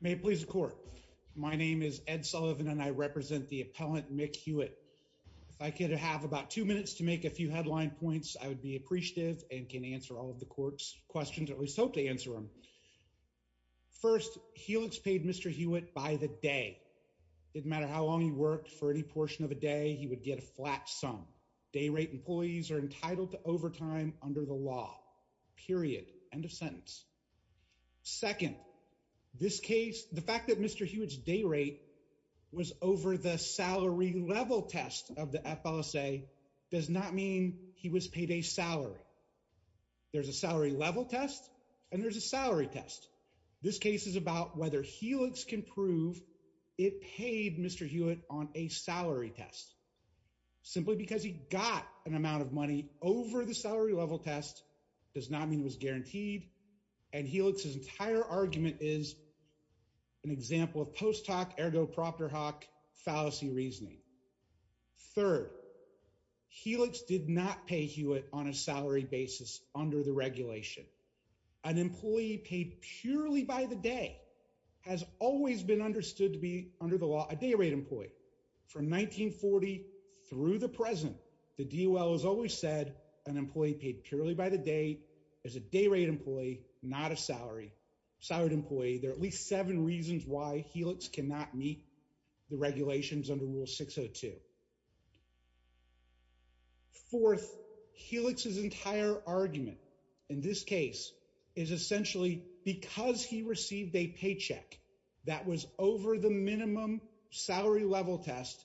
May it please the court. My name is Ed Sullivan and I represent the appellant Mick Hewitt. If I could have about two minutes to make a few headline points I would be appreciative and can answer all of the court's questions or at least hope to answer them. First, Helix paid Mr. Hewitt by the day. It didn't matter how long he worked, for any portion of a day he would get a flat sum. Day rate employees are paid by day. Second, the fact that Mr. Hewitt's day rate was over the salary level test of the FLSA does not mean he was paid a salary. There's a salary level test and there's a salary test. This case is about whether Helix can prove it paid Mr. Hewitt on a salary test. Simply because he got an amount of money over the salary level test does not mean it was guaranteed and Helix's entire argument is an example of post hoc ergo proctor hoc fallacy reasoning. Third, Helix did not pay Hewitt on a salary basis under the regulation. An employee paid purely by the day has always been understood to be under the law a day rate employee. From 1940 through the present the DOL has always said an employee paid purely by the day is a day rate employee, not a salary. Salary employee, there are at least seven reasons why Helix cannot meet the regulations under Rule 602. Fourth, Helix's entire argument in this case is essentially because he received a paycheck that was over the minimum salary level test,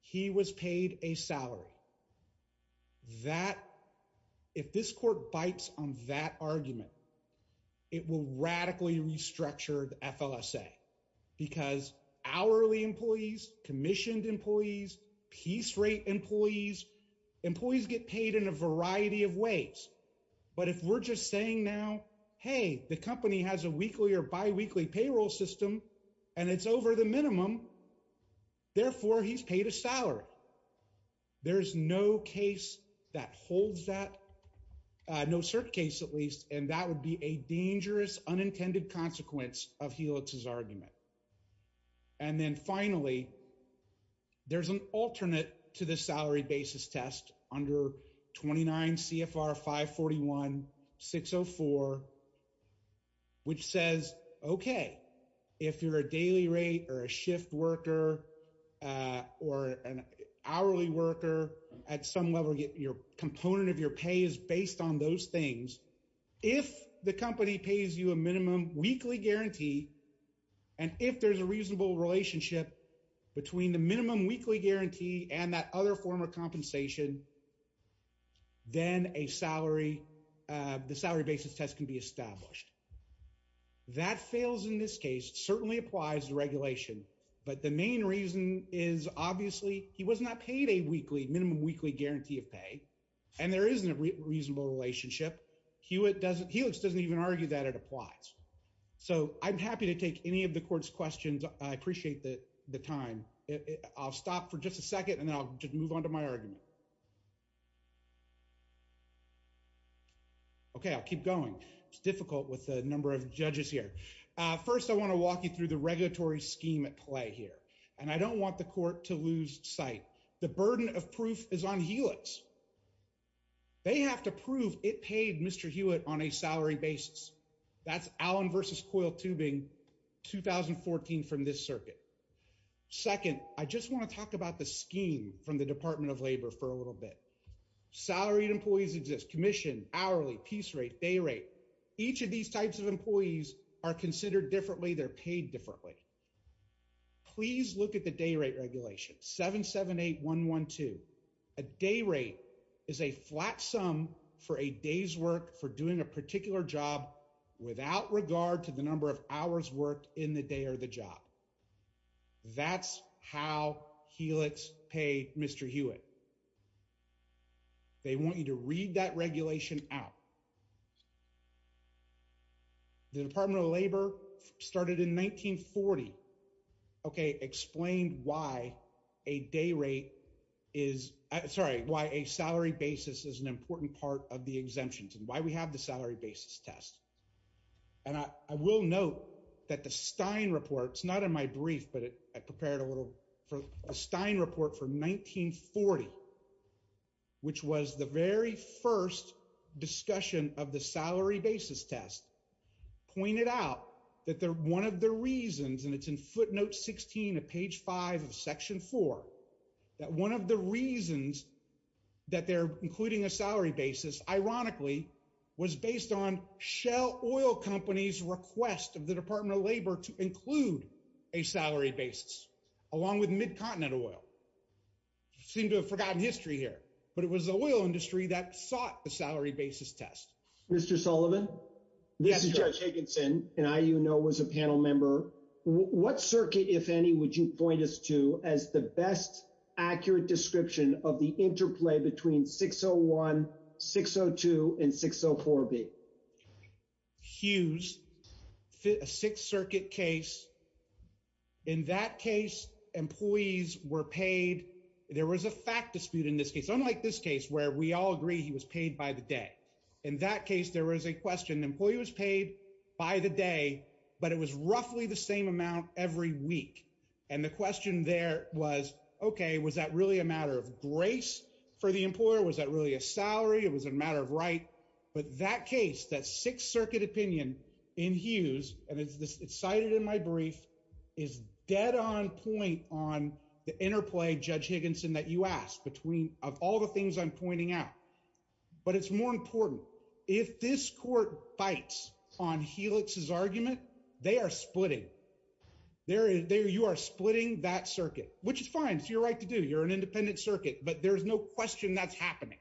he was paid a salary. If this court bites on that argument, it will radically restructure the FLSA because hourly employees, commissioned employees, piece rate employees, employees get paid in a variety of and it's over the minimum, therefore he's paid a salary. There's no case that holds that, no cert case at least, and that would be a dangerous unintended consequence of Helix's argument. And then finally, there's an alternate to the salary basis test under 29 CFR 541 604, which says, okay, if you're a daily rate or a shift worker or an hourly worker at some level, your component of your pay is based on those things. If the company pays you a minimum weekly guarantee, and if there's a reasonable relationship between the minimum weekly guarantee and that other form of compensation, then the salary basis test can be established. That fails in this case, certainly applies to regulation, but the main reason is obviously he was not paid a minimum weekly guarantee of pay, and there isn't a reasonable relationship. Helix doesn't even argue that it applies. So I'm happy to take any of the court's questions. I appreciate the time. I'll stop for just a second and I'll just move on to my argument. Okay, I'll keep going. It's difficult with a number of judges here. First, I want to walk you through the regulatory scheme at play here, and I don't want the court to lose sight. The burden of proof is on Helix. They have to prove it paid Mr. Hewitt on a salary basis. That's Allen Tubing 2014 from this circuit. Second, I just want to talk about the scheme from the Department of Labor for a little bit. Salary employees exist, commission, hourly, piece rate, day rate. Each of these types of employees are considered differently. They're paid differently. Please look at the day rate regulation, 778-112. A day rate is a flat sum for a day's work for doing a particular job without regard to the number of hours worked in the day or the job. That's how Helix pay Mr. Hewitt. They want you to read that regulation out. The Department of Labor started in 1940, okay, explained why a day rate is... Sorry, why a salary basis is an important part of the exemptions and why we have the salary basis test. And I will note that the Stein report, it's not in my brief, but I prepared a little for a Stein report for 1940, which was the very first discussion of the salary basis test, pointed out that one of the reasons, and it's in footnote 16 of page five of section four, that one of the reasons that they're including a salary basis, ironically, was based on Shell Oil Company's request of the Department of Labor to include a salary basis, along with Mid-Continent Oil. Seem to have forgotten history here, but it was the oil industry that sought the salary basis test. Mr. Sullivan? Yes, sir. Mr. Higginson, and I, you know, was a panel member. What circuit, if any, would you point us to as the best accurate description of the interplay between 601, 602, and 604B? Huge. Six circuit case. In that case, employees were paid. There was a fact dispute in this case, unlike this case, where we all agree he was paid by the day. In that case, there was a question. The employee was paid by the day, but it was roughly the same amount every week. And the question there was, okay, was that really a matter of grace for the employer? Was that really a salary? It was a matter of right. But that case, that six circuit opinion in Hughes, and it's cited in my brief, is dead on point on the interplay, Judge Higginson, that you asked of all the things I'm pointing out. But it's more important. If this court fights on Helix's argument, they are splitting. You are splitting that circuit, which is fine. It's your right to do. You're an independent circuit, but there's no question that's happening.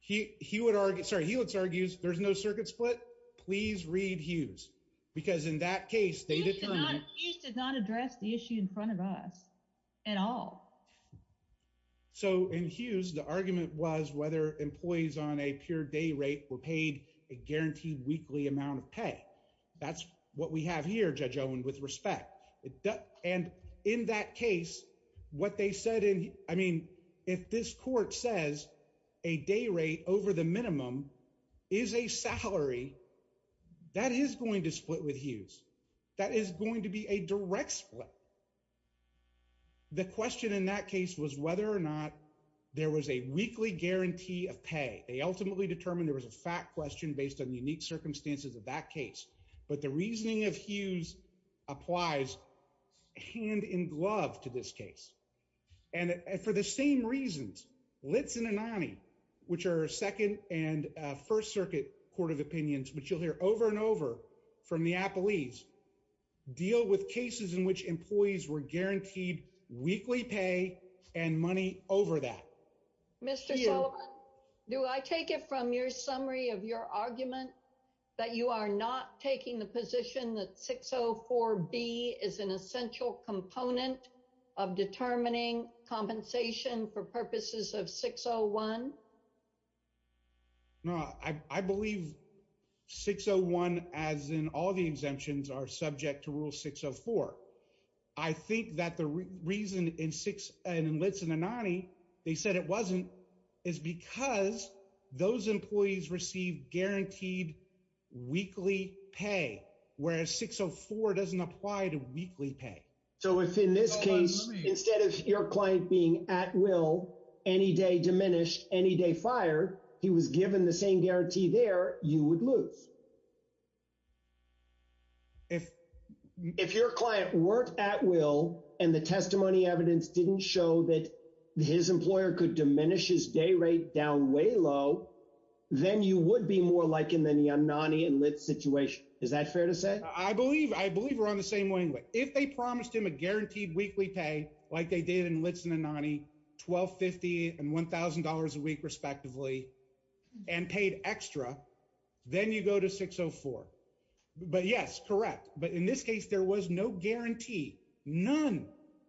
He would argue, sorry, Helix argues, there's no circuit split. Please read Hughes, because in that case, he did not address the issue in front of us at all. So in Hughes, the argument was whether employees on a pure day rate were paid a guaranteed weekly amount of pay. That's what we have here, Judge Owen, with respect. And in that case, what they said in, I mean, if this court says a day rate over the minimum is a salary, that is going to be a direct split. The question in that case was whether or not there was a weekly guarantee of pay. They ultimately determined there was a fact question based on the unique circumstances of that case. But the reasoning of Hughes applies hand in glove to this case. And for the same reasons, Lips and Anania, which are second and first circuit court of opinions, which you'll hear over from the athletes deal with cases in which employees were guaranteed weekly pay and money over that. Mr. Do I take it from your summary of your argument that you are not taking the position that 604 B is an essential component of determining compensation for purposes of 601? No, I believe 601 as in all the exemptions are subject to rule 604. I think that the reason in Lips and Anania, they said it wasn't, is because those employees received guaranteed weekly pay, whereas 604 doesn't apply to weekly pay. So it's in this case, instead of your client being at will any day diminished any day fire, he was given the same guarantee there you would lose. If your client worked at will, and the testimony evidence didn't show that his employer could diminish his day rate down way low, then you would be more likely than the Anania and Lips Is that fair to say? I believe I believe we're on the same lane, but if they promised him a guaranteed weekly pay, like they did in Lips and Anania 1250 and $1,000 a week, respectively, and paid extra, then you go to 604. But yes, correct. But in this case, there was no guarantee. None.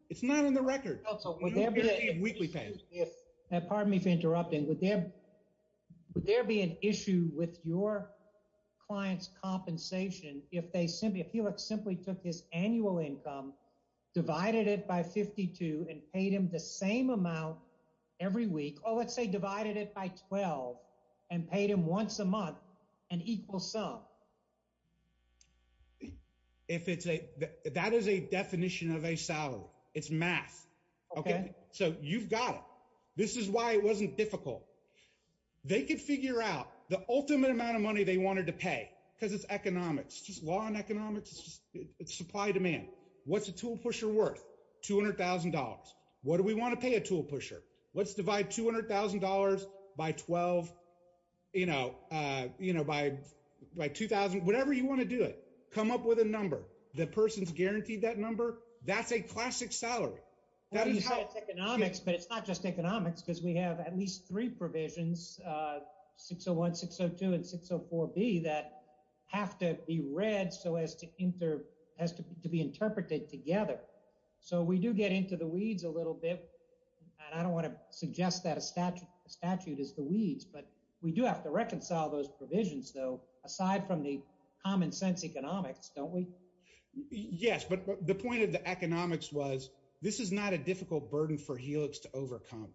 It's not in the record. Would there be an issue with your client's compensation if they simply if he simply took his annual income, divided it by 52 and paid him the same amount every week, or let's say divided it by 12, and paid him once a month, an equal sum. If it's a that is a definition of a salary, it's math. Okay, so you've got it. This is why it wasn't difficult. They could figure out the ultimate amount of money they wanted to pay because it's economics, just law and economics, supply demand. What's a tool pusher worth $200,000? What do we want to pay a tool pusher? Let's divide $200,000 by 12, you know, you know, by, by 2000, whatever you want to do it, come up with a number, the person's guaranteed that number. That's a classic salary. That is how economics, but not just economics, because we have at least three provisions. 601 602 and 604 B that have to be read so as to enter has to be interpreted together. So we do get into the weeds a little bit. And I don't want to suggest that a statute statute is the weeds, but we do have to reconcile those provisions though, aside from the common sense economics, don't we? Yes. But the point of the economics was, this is not a difficult burden for Helix to overcome.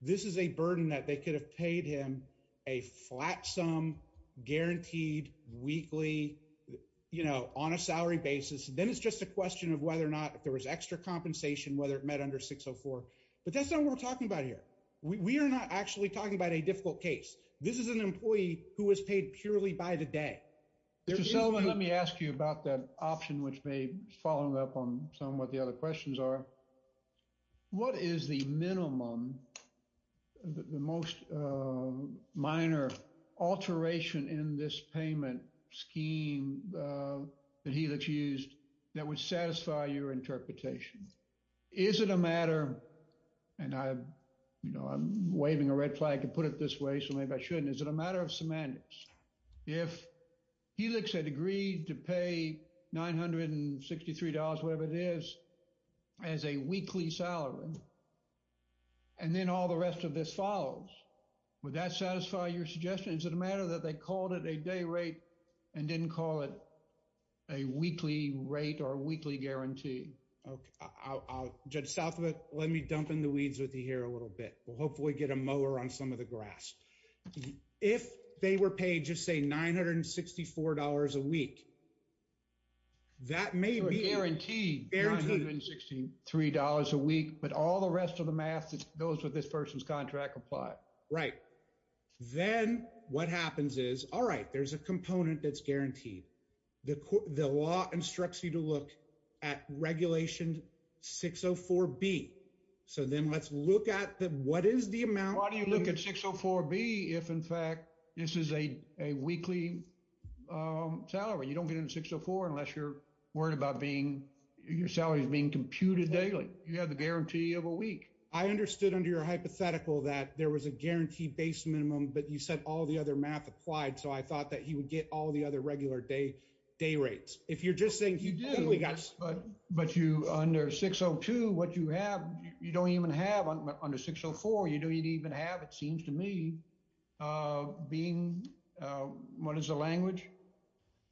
This is a burden that they could have paid him a flat sum guaranteed weekly, you know, on a salary basis. Then it's just a question of whether or not if there was extra compensation, whether it met under 604, but that's not what we're talking about here. We are not actually talking about a difficult case. This is an employee who was paid purely by the day. Mr. Sullivan, let me ask you about the option, which may follow up on some of what the other questions are. What is the minimum, the most minor alteration in this payment scheme that Helix used that would satisfy your interpretation? Is it a matter, and I, you know, I'm waving a flag to put it this way, so maybe I shouldn't. Is it a matter of semantics? If Helix had agreed to pay $963, whatever it is, as a weekly salary, and then all the rest of this follows, would that satisfy your suggestion? Is it a matter that they called it a day rate and didn't call it a weekly rate or a weekly guarantee? I'll get south of it. Let me dump the weeds with you here a little bit. We'll hopefully get a mower on some of the grass. If they were paid, just say $964 a week, that may be guaranteed $963 a week, but all the rest of the math that goes with this person's contract apply. Right. Then what happens is, all right, there's a component that's guaranteed. The law instructs you to look at regulation 604B. So then let's look at what is the amount. Why do you look at 604B if, in fact, this is a weekly salary? You don't get a 604 unless you're worried about your salary being computed daily. You have the guarantee of a week. I understood under your hypothetical that there was a guarantee-based minimum, but you said all the other math applied, so I thought that you would get all the other day rates. But under 602, what you have, you don't even have under 604. You don't even have, it seems to me, being... What is the language?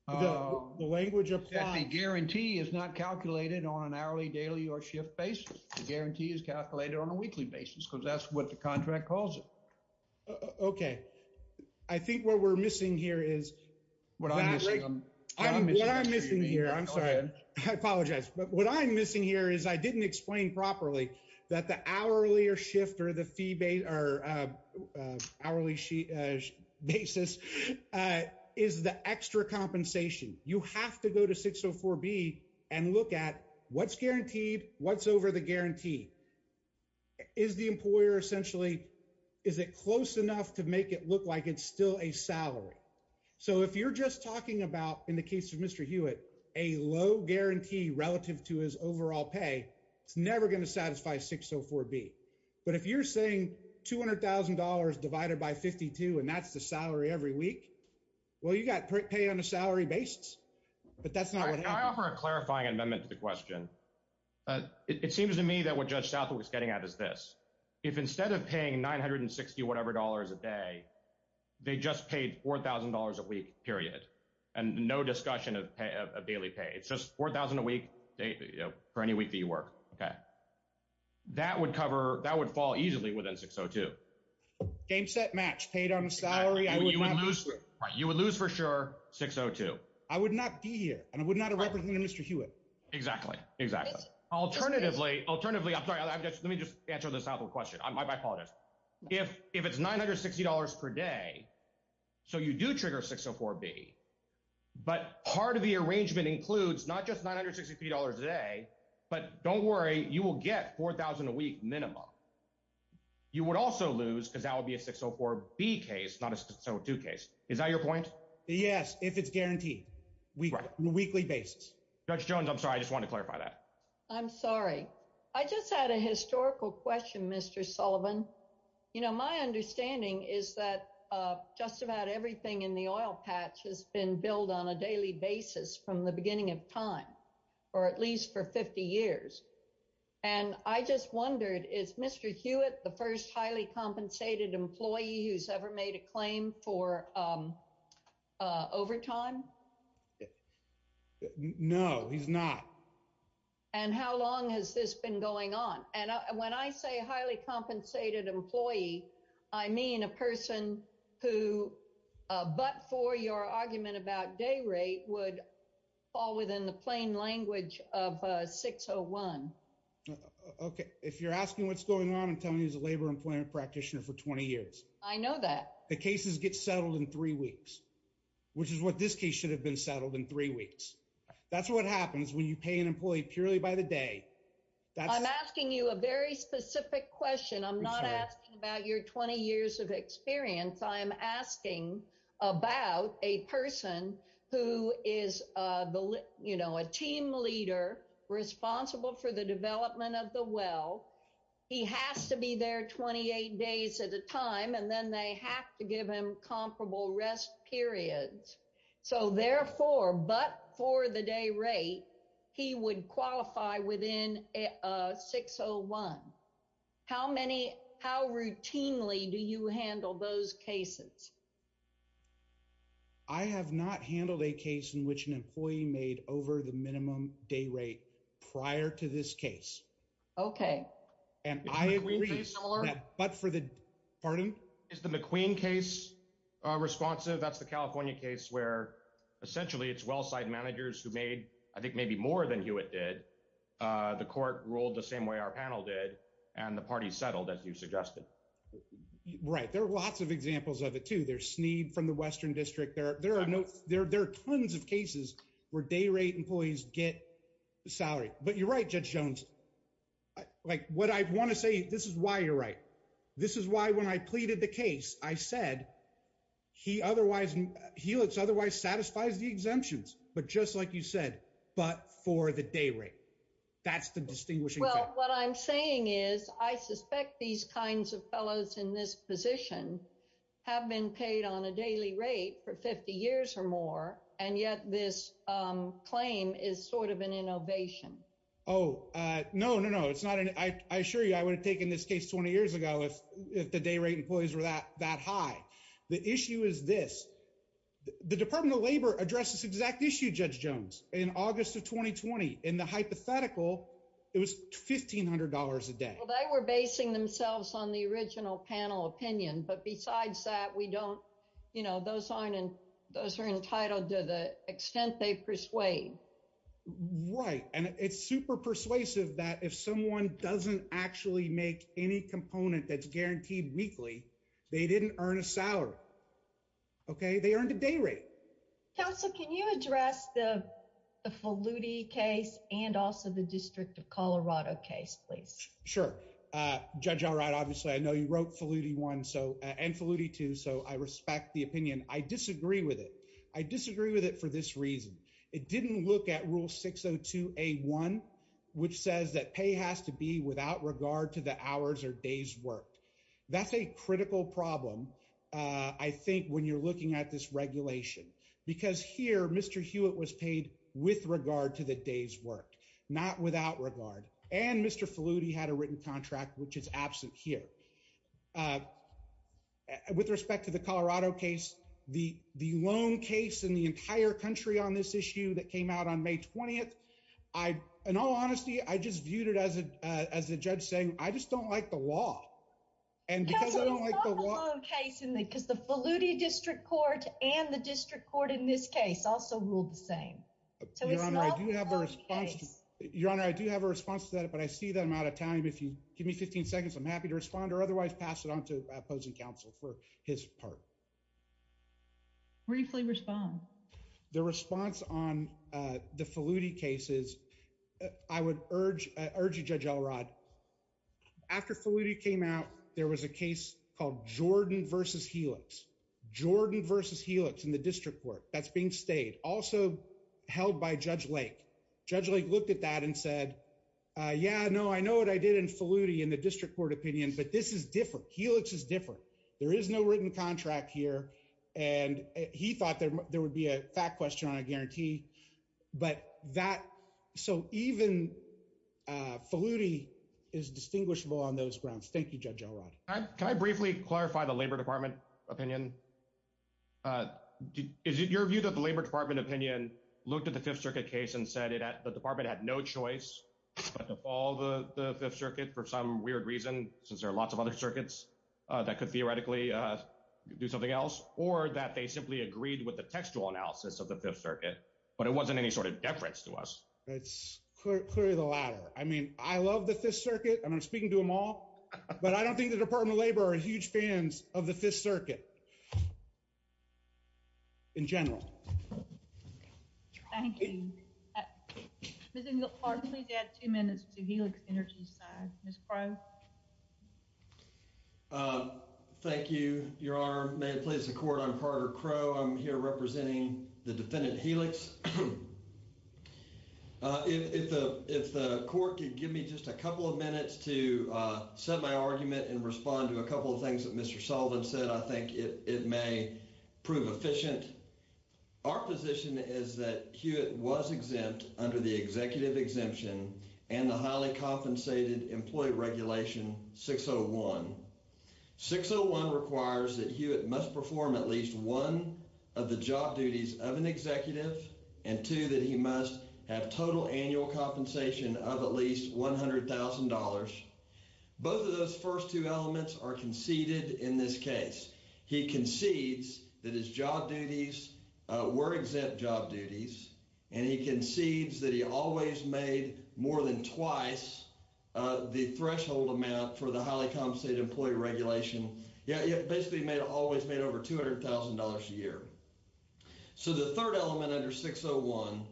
The language of time. The guarantee is not calculated on an hourly, daily, or shift basis. The guarantee is calculated on a weekly basis because that's what the contract calls it. Okay. I think what we're missing here is what I'm missing. What I'm missing here, I'm sorry. I apologize. But what I'm missing here is I didn't explain properly that the hourly or shift or the hourly basis is the extra compensation. You have to go to 604B and look at what's guaranteed, what's over the guarantee. Is the employer essentially, is it close enough to make it look like it's still a salary? So if you're just talking about, in the case of Mr. Hewitt, a low guarantee relative to his overall pay, it's never going to satisfy 604B. But if you're saying $200,000 divided by 52 and that's the salary every week, well, you got pay on a salary basis, but that's not what happened. Can I offer a clarifying amendment to the question? It seems to me that what Judge Hewitt is saying is that $200,000 a week period and no discussion of daily pay. It's just $4,000 a week for any week that you work. Okay. That would cover, that would fall easily within 602. Game, set, match. Paid on a salary. You would lose for sure 602. I would not be here and I would not have represented Mr. Hewitt. Exactly. Exactly. Alternatively, I'm sorry. Let me just answer the top of the question. I might follow this. If it's $960 per day, so you do trigger 604B, but part of the arrangement includes not just $960 a day, but don't worry, you will get $4,000 a week minimum. You would also lose because that would be a 604B case, not a 602 case. Is that your point? Yes. If it's guaranteed on a weekly basis. Judge Jones, I'm sorry. I just want to clarify that. I'm sorry. I just had a historical question, Mr. Sullivan. My understanding is that just about everything in the oil patch has been billed on a daily basis from the beginning of time, or at least for 50 years. I just wondered, is Mr. Hewitt the first highly compensated employee who's ever made a claim for overtime? No, he's not. How long has this been going on? When I say highly compensated employee, I mean a person who, but for your argument about day rate, would fall within the plain language of 601. Okay. If you're asking what's going on, I'm telling you he's a labor employment practitioner for 20 years. I know that. The cases get settled in three weeks, which is what this case should have been settled in three weeks. That's what happens when you pay an employee purely by the day. I'm asking you a very specific question. I'm not asking about your 20 years of experience. I'm asking about a person who is a team leader responsible for the development of the well. He has to be there 28 days at a time, and then they have to give him comparable rest periods. So therefore, but for the day rate, he would qualify within 601. How routinely do you handle those cases? I have not handled a case in which an employee made over the minimum day rate prior to this case. Okay. But for the party? Is the McQueen case responsive? That's the California case where essentially it's well-side managers who made, I think maybe more than Hewitt did. The court ruled the same way our panel did, and the party settled as you suggested. Right. There are lots of examples of it too. There's Snead from the Western District. There are tons of cases where day rate employees get salary. But you're right, Judge Jones, like what I want to say, this is why you're right. This is why when I pleaded the case, I said, Hewlett's otherwise satisfies the exemptions, but just like you said, but for the day rate, that's the distinguishing. Well, what I'm saying is I suspect these kinds of fellows in this position have been paid on a daily rate for 50 years or more. And yet this claim is sort of an innovation. Oh, no, no, no. I assure you I would have taken this case 20 years ago if the day rate employees were that high. The issue is this. The Department of Labor addressed this exact issue, Judge Jones, in August of 2020. In the hypothetical, it was $1,500 a day. Well, they were basing themselves on the original panel opinion. But besides that, those are entitled to the extent they persuade. Right. And it's super persuasive that if someone doesn't actually make any component that's guaranteed weekly, they didn't earn a salary. Okay, they earned a day rate. Counselor, can you address the Faludi case and also the District of Colorado case, please? Sure. Judge, all right. Obviously, I know you wrote Faludi 1 and Faludi 2, so I respect the opinion. I disagree with it. I disagree with it for this reason. It didn't look at Rule 602A1, which says that pay has to be without regard to the hours or days worked. That's a critical problem, I think, when you're looking at this regulation. Because here, Mr. Hewitt was paid with regard to the days worked, not without regard. And Mr. Faludi had a written contract, which is absent here. With respect to the Colorado case, the lone case in the entire country on this issue that came out on May 20th, in all honesty, I just viewed it as a judge saying, I just don't like the law. And because I don't like the law... No, it's not the lone case, because the Faludi District Court and the District Court in this case also ruled the same. Your Honor, I do have a response to that, but I see that I'm out of time. If you give me 15 seconds, I'm happy to respond or otherwise pass it on to opposing counsel for his part. Briefly respond. The response on the Faludi case is, I would urge you, Judge Elrod, after Faludi came out, there was a case called Jordan v. Helix. Jordan v. Helix in the District Court that's being stayed, also held by Judge Lake. Judge Lake looked at that and said, yeah, no, I know what I did in Faludi in the District Court opinion, but this is different. Helix is different. There is no written contract here. And he thought there would be a fact question on a guarantee. But that... So even Faludi is distinguishable on those grounds. Thank you, Judge Elrod. Can I briefly clarify the Labor Department opinion? Your view that the Labor Department opinion looked at the Fifth Circuit case and said that the department had no choice but to follow the Fifth Circuit for some weird reason, since there are lots of other circuits that could theoretically do something else, or that they simply agreed with the textual analysis of the Fifth Circuit, but it wasn't any sort of deference to us. It's clearly the latter. I mean, I love the Fifth Circuit, and I'm speaking to them all, but I don't think the Department of Labor are huge fans of the Fifth Circuit in general. Thank you. Mr. McClark, please add two minutes to the Helix energy time. Ms. Price? Thank you, Your Honor. May it please the Court, I'm Carter Crowe. I'm here representing the defendant, Helix. If the Court could give me just a couple of minutes to set my argument and respond to a couple of things that Mr. Sullivan said, I think it may prove efficient. Our position is that Hewitt was exempt under the executive exemption and the highly compensated employee regulation 601. 601 requires that Hewitt must perform at least one of the job duties of an executive, and two, that he must have total annual compensation of at least $100,000. Both of those first two elements are conceded in this case. He concedes that his job duties were exempt job duties, and he concedes that he always made more than twice the threshold amount for the highly compensated employee regulation, yet basically made over $200,000 a year. So the third element under 601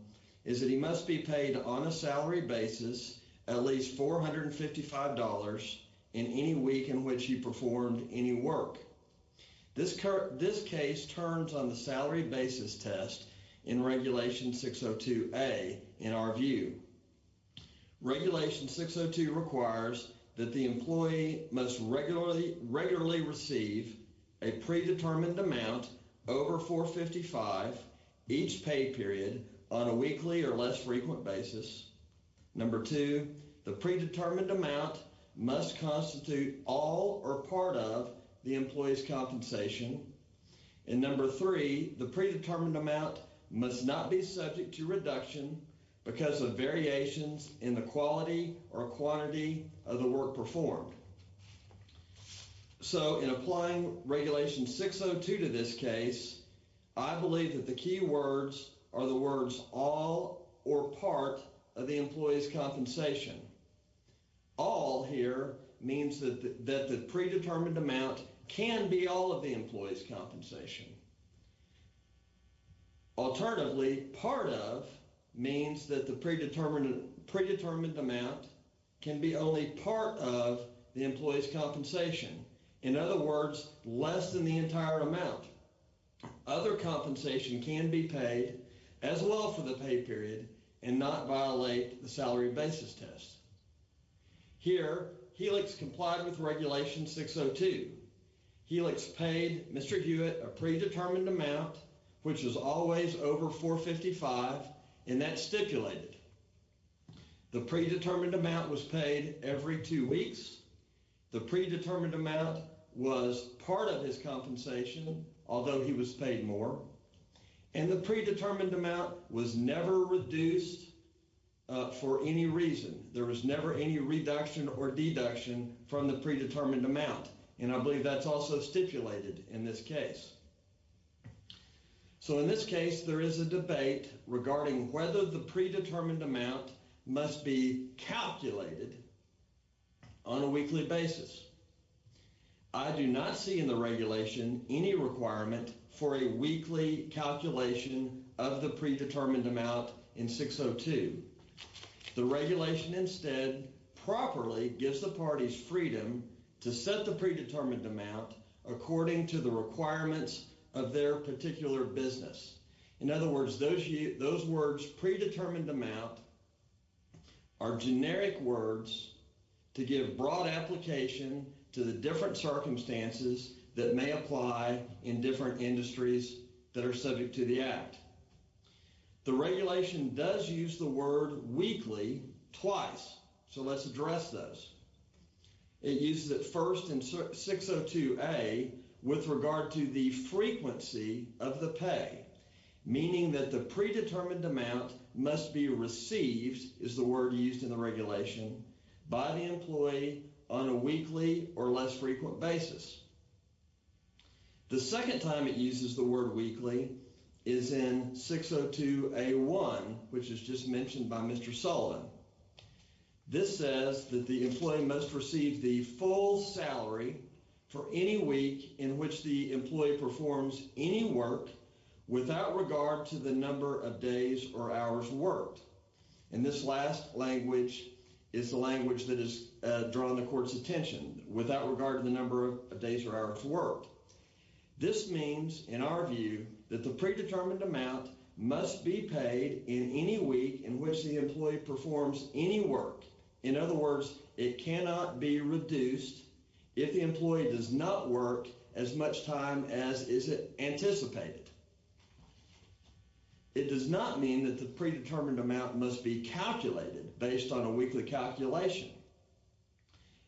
is that he must be paid on a salary basis at least $455 in any week in which he performed any work. This case turns on the salary basis test in Regulation 602A in our view. Regulation 602 requires that the employee must regularly receive a predetermined amount over $455 each pay period on a weekly or less frequent basis. Number two, the predetermined amount must constitute all or part of the employee's compensation. And number three, the predetermined amount must not be subject to reduction because of variations in the quality or quantity of the I believe that the key words are the words all or part of the employee's compensation. All here means that the predetermined amount can be all of the employee's compensation. Alternatively, part of means that the predetermined amount can be only part of the employee's compensation. In other words, less than the entire amount. Other compensation can be paid as well for the pay period and not violate the salary basis test. Here, Helix complied with Regulation 602. Helix paid Mr. Hewitt a predetermined amount, which is always over $455, and that's stipulated. The predetermined amount was paid every two weeks the predetermined amount was part of his compensation, although he was paid more, and the predetermined amount was never reduced for any reason. There was never any reduction or deduction from the predetermined amount, and I believe that's also stipulated in this case. So in this case, there is a debate regarding whether the predetermined amount must be calculated on a weekly basis. I do not see in the Regulation any requirement for a weekly calculation of the predetermined amount in 602. The Regulation instead properly gives the parties freedom to set the predetermined amount according to the requirements of their particular business. In other words, those words, predetermined amount, are generic words to give broad application to the different circumstances that may apply in different industries that are subject to the Act. The Regulation does use the word weekly twice, so let's address this. It uses it first in 602A with regard to the frequency of the pay, meaning that the predetermined amount must be received, is the word used in the Regulation, by the employee on a weekly or less frequent basis. The second time it uses the word weekly is in 602A1, which is just mentioned by Mr. Sullivan. This says that the without regard to the number of days or hours worked. And this last language is the language that has drawn the Court's attention, without regard to the number of days or hours worked. This means, in our view, that the predetermined amount must be paid in any week in which the employee performs any work. In other words, it cannot be reduced if the employee does not work as much time as is anticipated. It does not mean that the predetermined amount must be calculated based on a weekly calculation.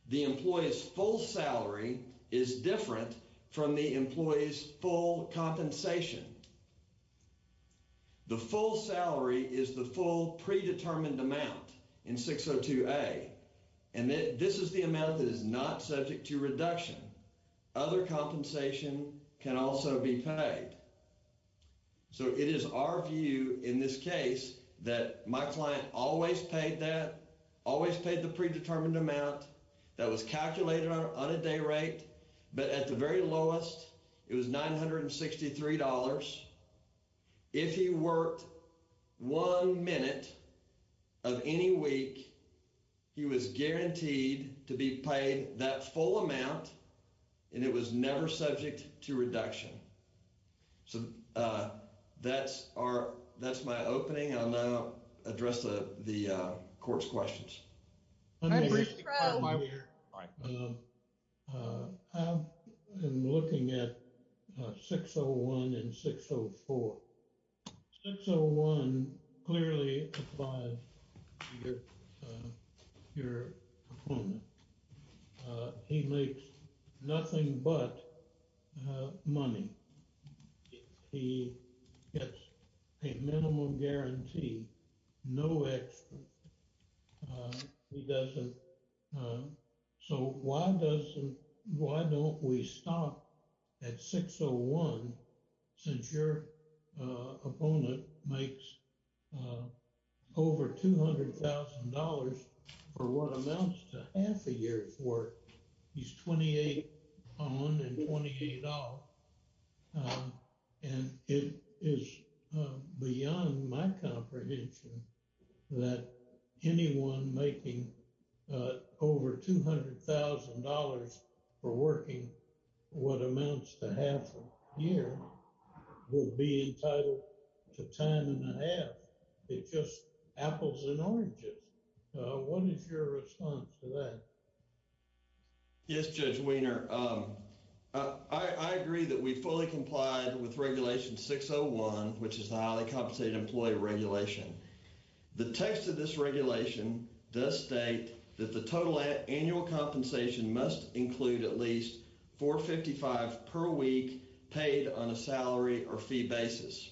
The employee's full salary is different from the employee's full compensation. The full salary is the full predetermined amount in 602A, and this is the reduction. Other compensation can also be paid. So it is our view, in this case, that my client always paid that, always paid the predetermined amount that was calculated on a day rate, but at the very lowest, it was $963. If he worked one minute of any week, he was guaranteed to be paid the full amount, and it was never subject to reduction. So that's our, that's my opening, and I'll now address the Court's questions. My name is Tom. I've been looking at 601 and 604. 601 clearly applies to your opponent. He makes nothing but money. He gets a minimum guarantee, no extra. He doesn't, so why doesn't, why don't we stop at 601 since your opponent makes over $200,000 for what amounts to half a year's work? He's 28 on $128, and it is beyond my comprehension that anyone making over $200,000 for working what amounts to half a year will be entitled to time and a half because apples and oranges. What is your response to that? Yes, Judge Wiener. I agree that we fully comply with Regulation 601, which is a highly compensated employee regulation. The text of this regulation does state that the total is paid on a salary or fee basis.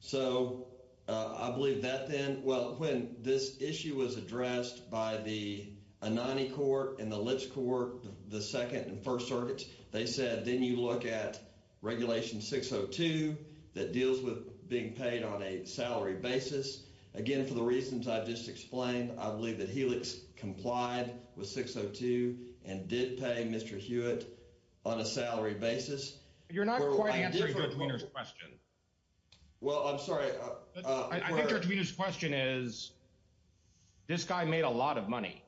So I believe that then, well, when this issue was addressed by the Anani Court and the Lipsch Court, the Second and First Circuits, they said then you look at Regulation 602 that deals with being paid on a salary basis. Again, for the reasons I just explained, I believe that Helix complied with 602 and did pay Mr. Hewitt on a salary basis. You're not quite answering Judge Wiener's question. Well, I'm sorry. I think Judge Wiener's question is, this guy made a lot of money,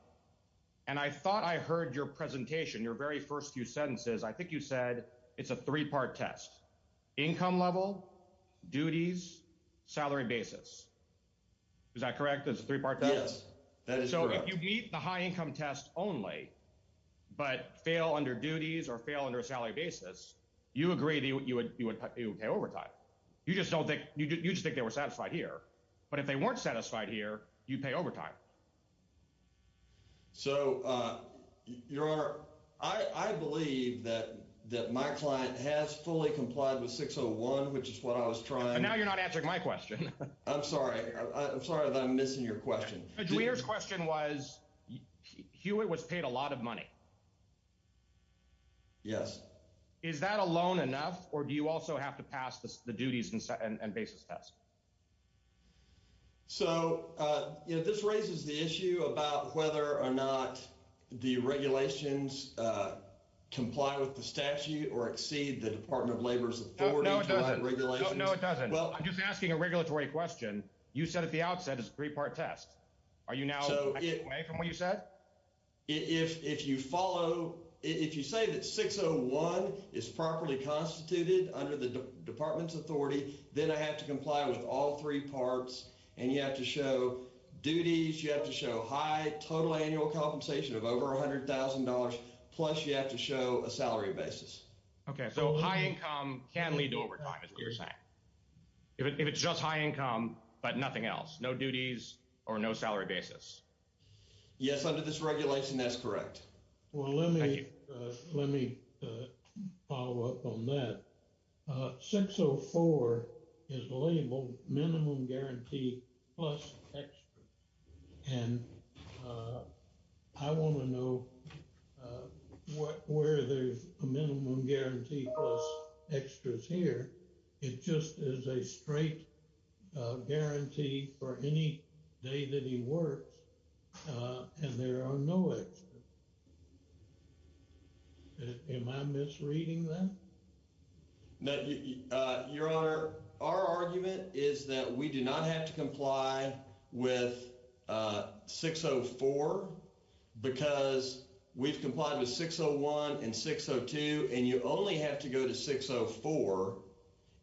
and I thought I heard your presentation, your very first few sentences. I think you said it's a three-part test, income level, duties, salary basis. Is that correct? It's a three-part test? Yes, that is correct. So if you meet the high-income test only but fail under duties or fail under a salary basis, you agree that you would pay overtime. You just think they were satisfied here. But if they weren't satisfied here, you'd pay overtime. So I believe that my client has fully complied with 601, which is what I was trying to... And now you're not answering my question. I'm sorry. I'm sorry that I'm missing your question. Judge Wiener's question was, Hewitt was paid a lot of money. Yes. Is that alone enough, or do you also have to pass the duties and basis test? So, you know, this raises the issue about whether or not the regulations comply with the statute or exceed the Department of Labor's authority. No, it doesn't. No, it doesn't. Well, I'm just asking a regulatory question. You said at the meeting. If you say that 601 is properly constituted under the Department's authority, then I have to comply with all three parts, and you have to show duties, you have to show high total annual compensation of over $100,000, plus you have to show a salary basis. Okay, so high income can lead to overtime. If it's just high income, but nothing else, no duties or no salary basis. Yes, under this regulation, that's correct. Well, let me follow up on that. 604 is labeled minimum guarantee plus extra, and I want to know where there's a minimum guarantee plus extras here. It just is a straight guarantee for any day that he works, and there are no extras. Am I misreading that? No, Your Honor, our argument is that we do not have to comply with 604 because we've complied with 601 and 602, and you only have to go to 604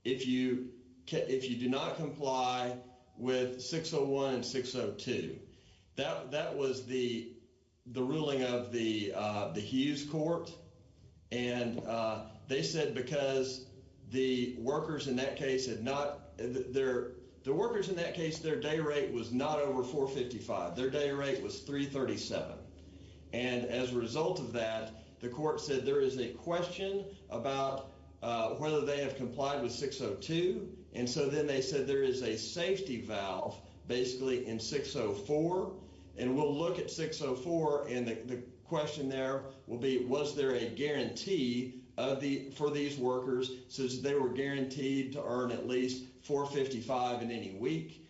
if you do not comply with 601 and 602. That was the ruling of the Hughes Court, and they said because the workers in that case, their day rate was not over 455. Their day rate was 337, and as a result of that, the court said there is a question about whether they have complied with 602, and so then they said there is a safety valve basically in 604, and we'll look at 604, and the question there will be was there a guarantee for these workers since they were guaranteed to earn at least 455 in any week?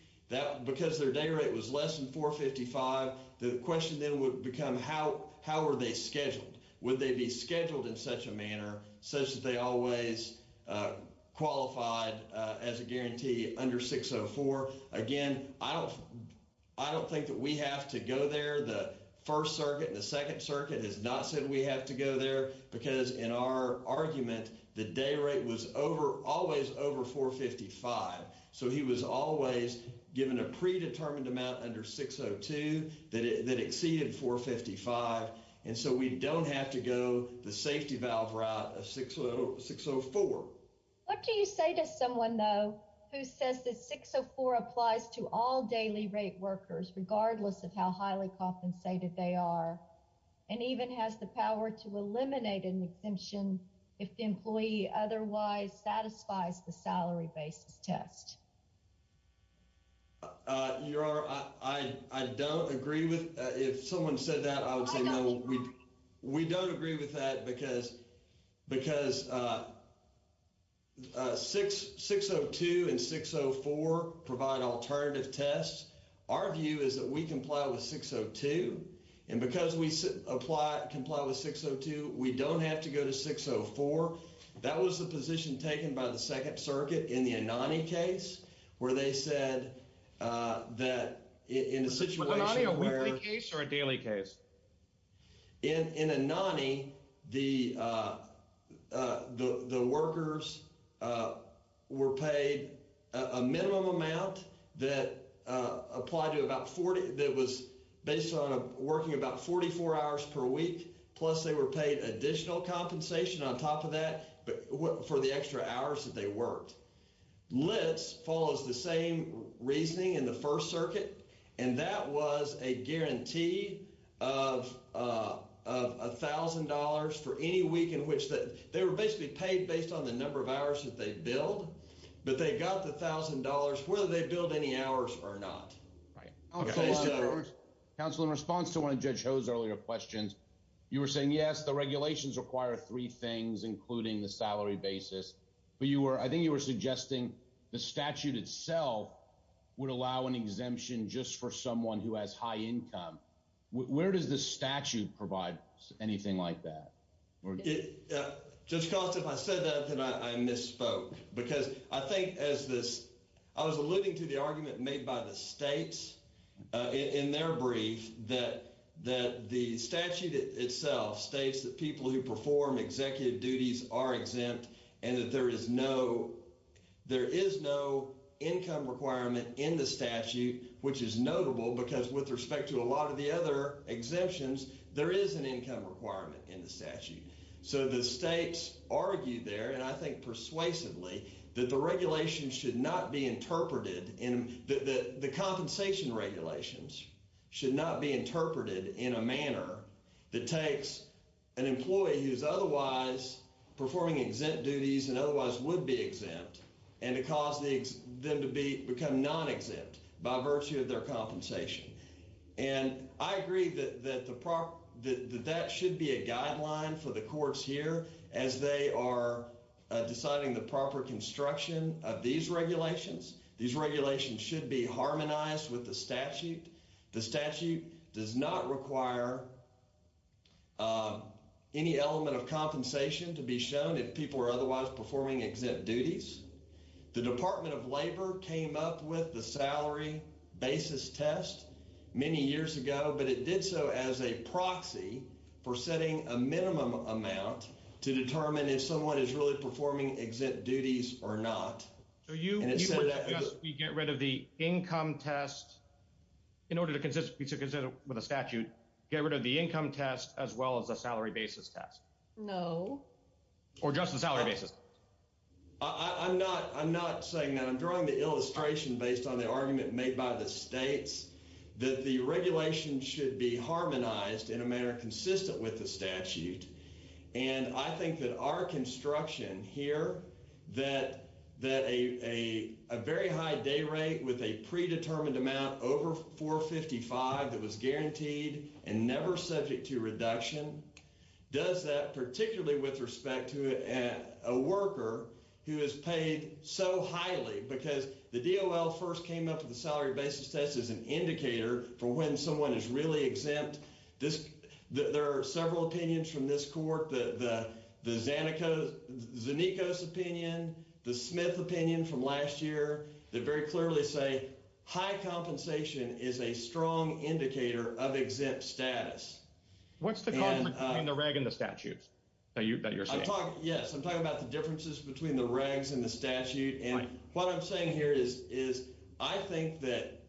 Because their day rate was less than 455, the question then would become how were they scheduled? Would they be scheduled in such a manner such that they always qualified as a guarantee under 604? Again, I don't think that we have to go there. The First Circuit and the Second Circuit has not said we have to go there because in our argument, the day rate was always over 455, so he was always given a predetermined amount under 602 that exceeded 455, and so we don't have to go the safety valve route of 604. What do you say to someone, though, who says that 604 applies to all daily rate workers, regardless of how highly compensated they are, and even has the power to eliminate an exemption if the employee otherwise satisfies the salary-based test? I don't agree with that. If someone said that, I would say no. We don't agree with that because 602 and 604 provide alternative tests. Our view is that we comply with 602, and because we comply with 602, we don't have to go to 604. That was the position taken by the Second Circuit in the Anani case, where they said that in a situation where... Was Anani a weekly case or a daily case? In Anani, the workers were paid a minimum amount that was based on working about 44 hours per week, plus they were paid additional compensation on top of that for the extra hours that they worked. LIPS follows the same reasoning in the First Circuit, and that was a guarantee of $1,000 for any week in which they were basically paid based on the number of hours that they billed, but they got the $1,000 whether they billed any hours or not. Counsel, in response to one of Judge Ho's earlier questions, you were saying, yes, the regulations require three things, including the salary basis. I think you were suggesting the statute itself would allow an exemption just for someone who has high income. Where does the statute provide anything like that? Judge Cost, if I said that, then I misspoke, because I think as this... I was alluding to the argument made by the states in their brief that the statute itself states that people who there is no income requirement in the statute, which is notable because with respect to a lot of the other exemptions, there is an income requirement in the statute. So the states argued there, and I think persuasively, that the regulations should not be interpreted... the compensation regulations should not be interpreted in a manner that takes an employee who is otherwise performing exempt duties and otherwise would be exempt and to cause them to be become non-exempt by virtue of their compensation. And I agree that that should be a guideline for the courts here as they are deciding the proper construction of these regulations. These regulations should be harmonized with the statute. The statute does not require any element of compensation to be shown if people are otherwise performing exempt duties. The Department of Labor came up with the salary basis test many years ago, but it did so as a proxy for setting a minimum amount to determine if someone is really performing exempt duties or not. So you get rid of the income test in order to consist with a statute, get rid of the income test, as well as the salary basis test. No. Or just the salary basis. I'm not saying that. I'm drawing the illustration based on the argument made by the states that the regulations should be harmonized in a manner consistent with the statute. And I think that our construction here, that a very high day rate with a predetermined amount over 455 that was guaranteed and never subject to reduction, does that particularly with respect to a worker who is paid so highly because the DOL first came up with the salary basis test as an indicator for when someone is really exempt. There are several opinions from this court. The Zanikos opinion, the Smith opinion from last year, very clearly say high compensation is a strong indicator of exempt status. What's the difference between the reg and the statute that you're saying? Yes. I'm talking about the differences between the regs and the statute. And what I'm saying here is, I think that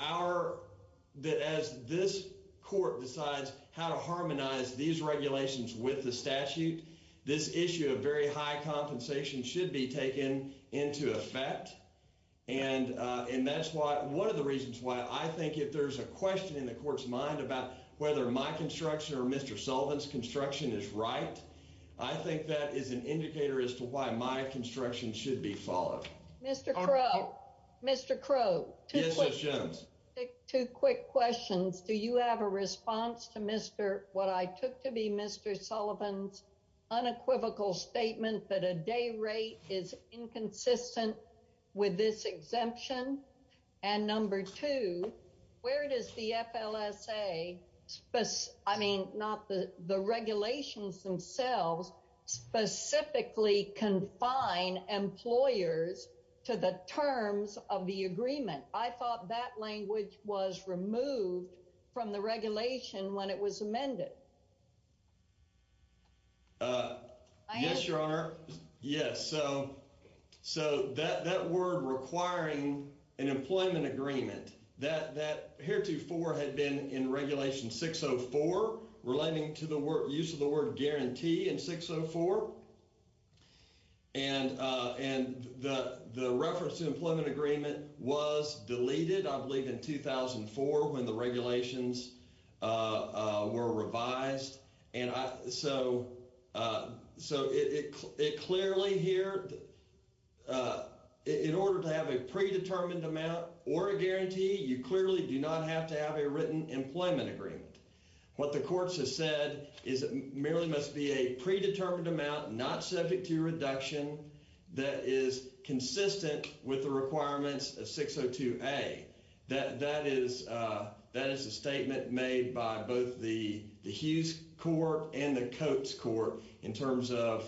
as this court decides how to harmonize these regulations with the statute, this issue of very high compensation should be taken into effect. And that's one of the reasons why I think if there's a question in the court's mind about whether my construction or Mr. Sullivan's construction is right, I think that is an indicator as to why my construction should be followed. Mr. Crow, two quick questions. Do you have a response to what I took to be Mr. Sullivan's unequivocal statement that a day rate is inconsistent with this exemption? And number two, where does the FLSA, I mean, not the regulations themselves, specifically confine employers to the terms of the agreement? I thought that language was removed from the regulation when it was amended. Yes, Your Honor. Yes. So, that word requiring an employment agreement, that heretofore had been in Regulation 604, relating to the use of the word guarantee in 604. And the reference to employment agreement was deleted, I believe, in 2004 when the regulations were revised. And so, it clearly here, in order to have a predetermined amount or a guarantee, you clearly do not have to have a written employment agreement. What the courts have said is it merely must be a predetermined amount not subject to reduction that is consistent with the Hughes court and the Coates court in terms of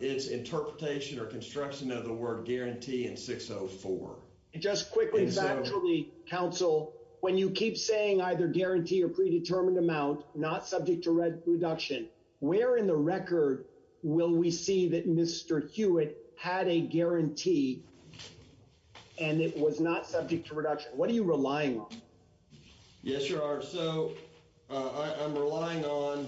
its interpretation or construction of the word guarantee in 604. Just quickly, factually, counsel, when you keep saying either guarantee or predetermined amount not subject to reduction, where in the record will we see that Mr. Hewitt had a guarantee and it was not subject to reduction? What are you relying on? Yes, Your Honor. So, I'm relying on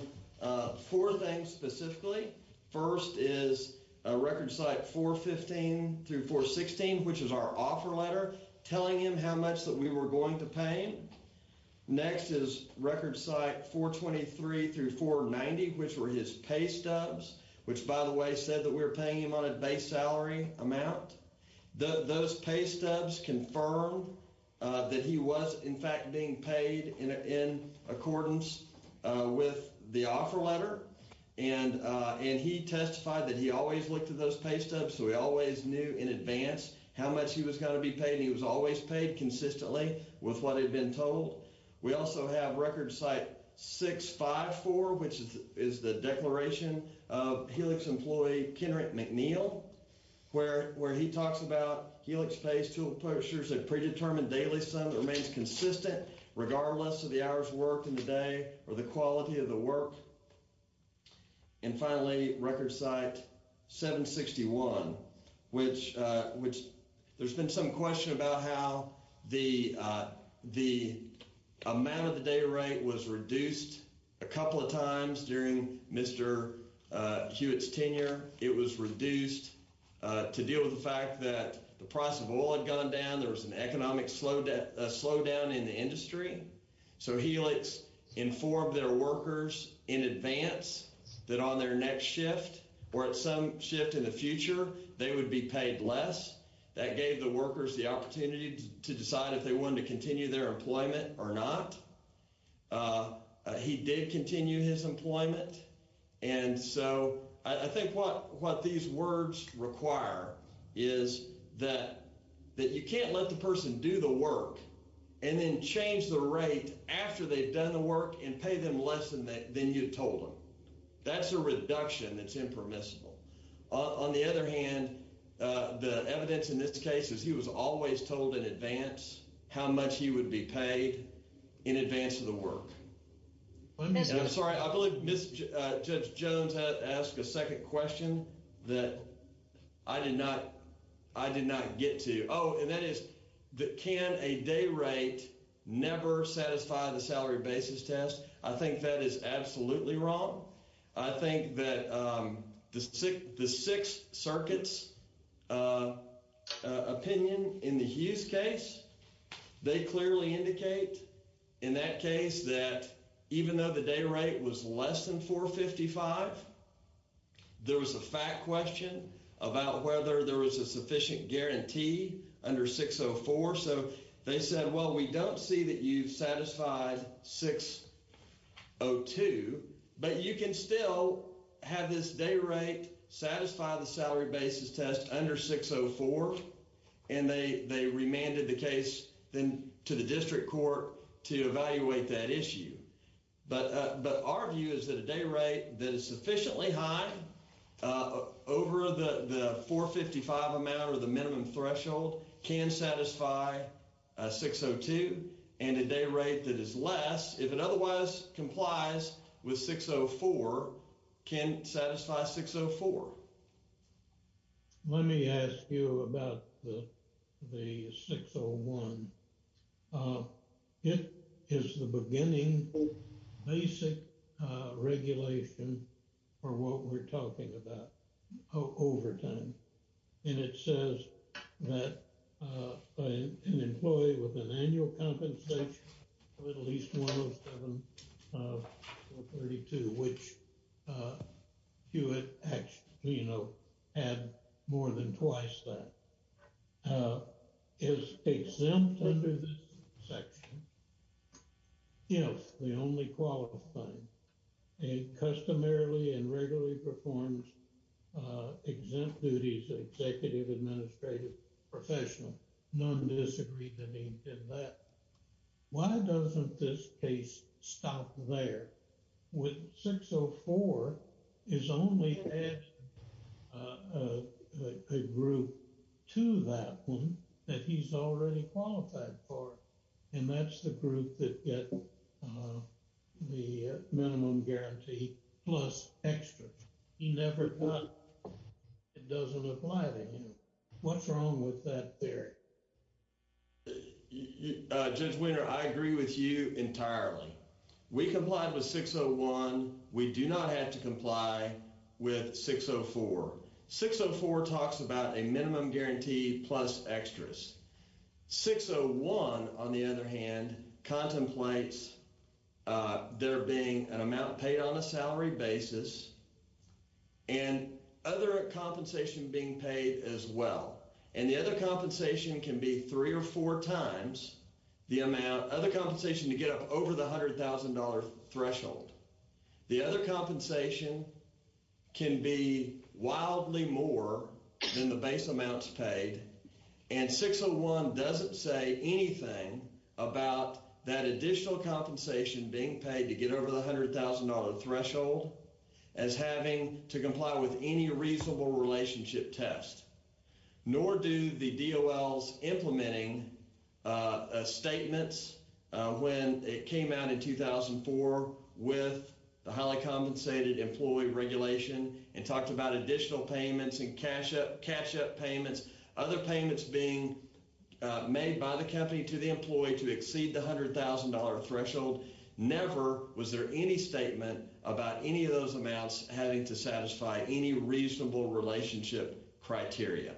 four things specifically. First is record site 415 through 416, which is our offer letter telling him how much that we were going to pay. Next is record site 423 through 490, which were his pay stubs, which by the way said that we were paying him on a base salary amount. Those pay stubs confirmed that he was in fact being paid in accordance with the offer letter. And he testified that he always looked at those pay stubs, so he always knew in advance how much he was going to be paid. He was always paid consistently with what had been told. We also have record site 654, which is the declaration of Hewitt's tenure at McNeil, where he talks about Hewitt's pay stubs that predetermined daily sum that remains consistent regardless of the hour's work in the day or the quality of the work. And finally, record site 761, which there's been some question about how the amount of the day rate was reduced a couple of times during Mr. Hewitt's tenure. It was reduced to deal with the fact that the price of oil had gone down, there was an economic slowdown in the industry. So, Helix informed their workers in advance that on their next shift or at some shift in the future, they would be paid less. That gave the workers the opportunity to decide if they wanted to He did continue his employment, and so I think what these words require is that you can't let the person do the work and then change the rate after they've done the work and pay them less than you've told them. That's a reduction that's impermissible. On the other hand, the evidence in this case is he was always told in advance how much he would be paid in advance of the work. Sorry, I believe Judge Jones asked a second question that I did not get to. Oh, and that is, can a day rate never satisfy the salary basis test? I think that is absolutely wrong. I think that the Sixth Circuit's opinion in the Hughes case, they clearly indicate in that case that even though the day rate was less than 455, there was a fact question about whether there was a sufficient guarantee under 604. So, they said, well, we don't see that you've satisfied 602, but you can still have this day rate satisfy the to the district court to evaluate that issue. But our view is that a day rate that is sufficiently high over the 455 amount or the minimum threshold can satisfy 602, and a day rate that is less, if it otherwise complies with 604, can satisfy 604. Let me ask you about the 601. It is the beginning basic regulation for what we're talking about, overtime. And it says that an employee with an annual compensation of at least 107 or 32, which Hewitt actually, you know, had more than twice that, is exempt under this section. You know, the only qualified. A customarily and regularly performed exempt duties of executive administrative professional. None disagree that he did that. Why doesn't this case stop there? With 604, it's only added a group to that one that he's already qualified for. And that's the group that get the minimum guarantee plus extra. He never thought it doesn't apply to him. What's wrong with that theory? Judge Winter, I agree with you entirely. We complied with 601. We do not have to comply with 604. 604 talks about a minimum guarantee plus extras. 601, on the other hand, contemplates there being an amount paid on a salary basis and other compensation being paid as well. And the other compensation can be three or four times the amount, other compensation, to get up over the $100,000 threshold. The other compensation can be wildly more than the base amounts paid. And 601 doesn't say anything about that additional compensation being paid to get over the $100,000 threshold as having to comply with any reasonable relationship test. Nor do the DOLs implementing statements when it came out in 2004 with the highly compensated employee regulation. It talked about additional payments and cash up payments, other payments being made by the company to the employee to exceed the $100,000 threshold. Never was there any statement about any of those amounts having to satisfy any reasonable relationship criteria.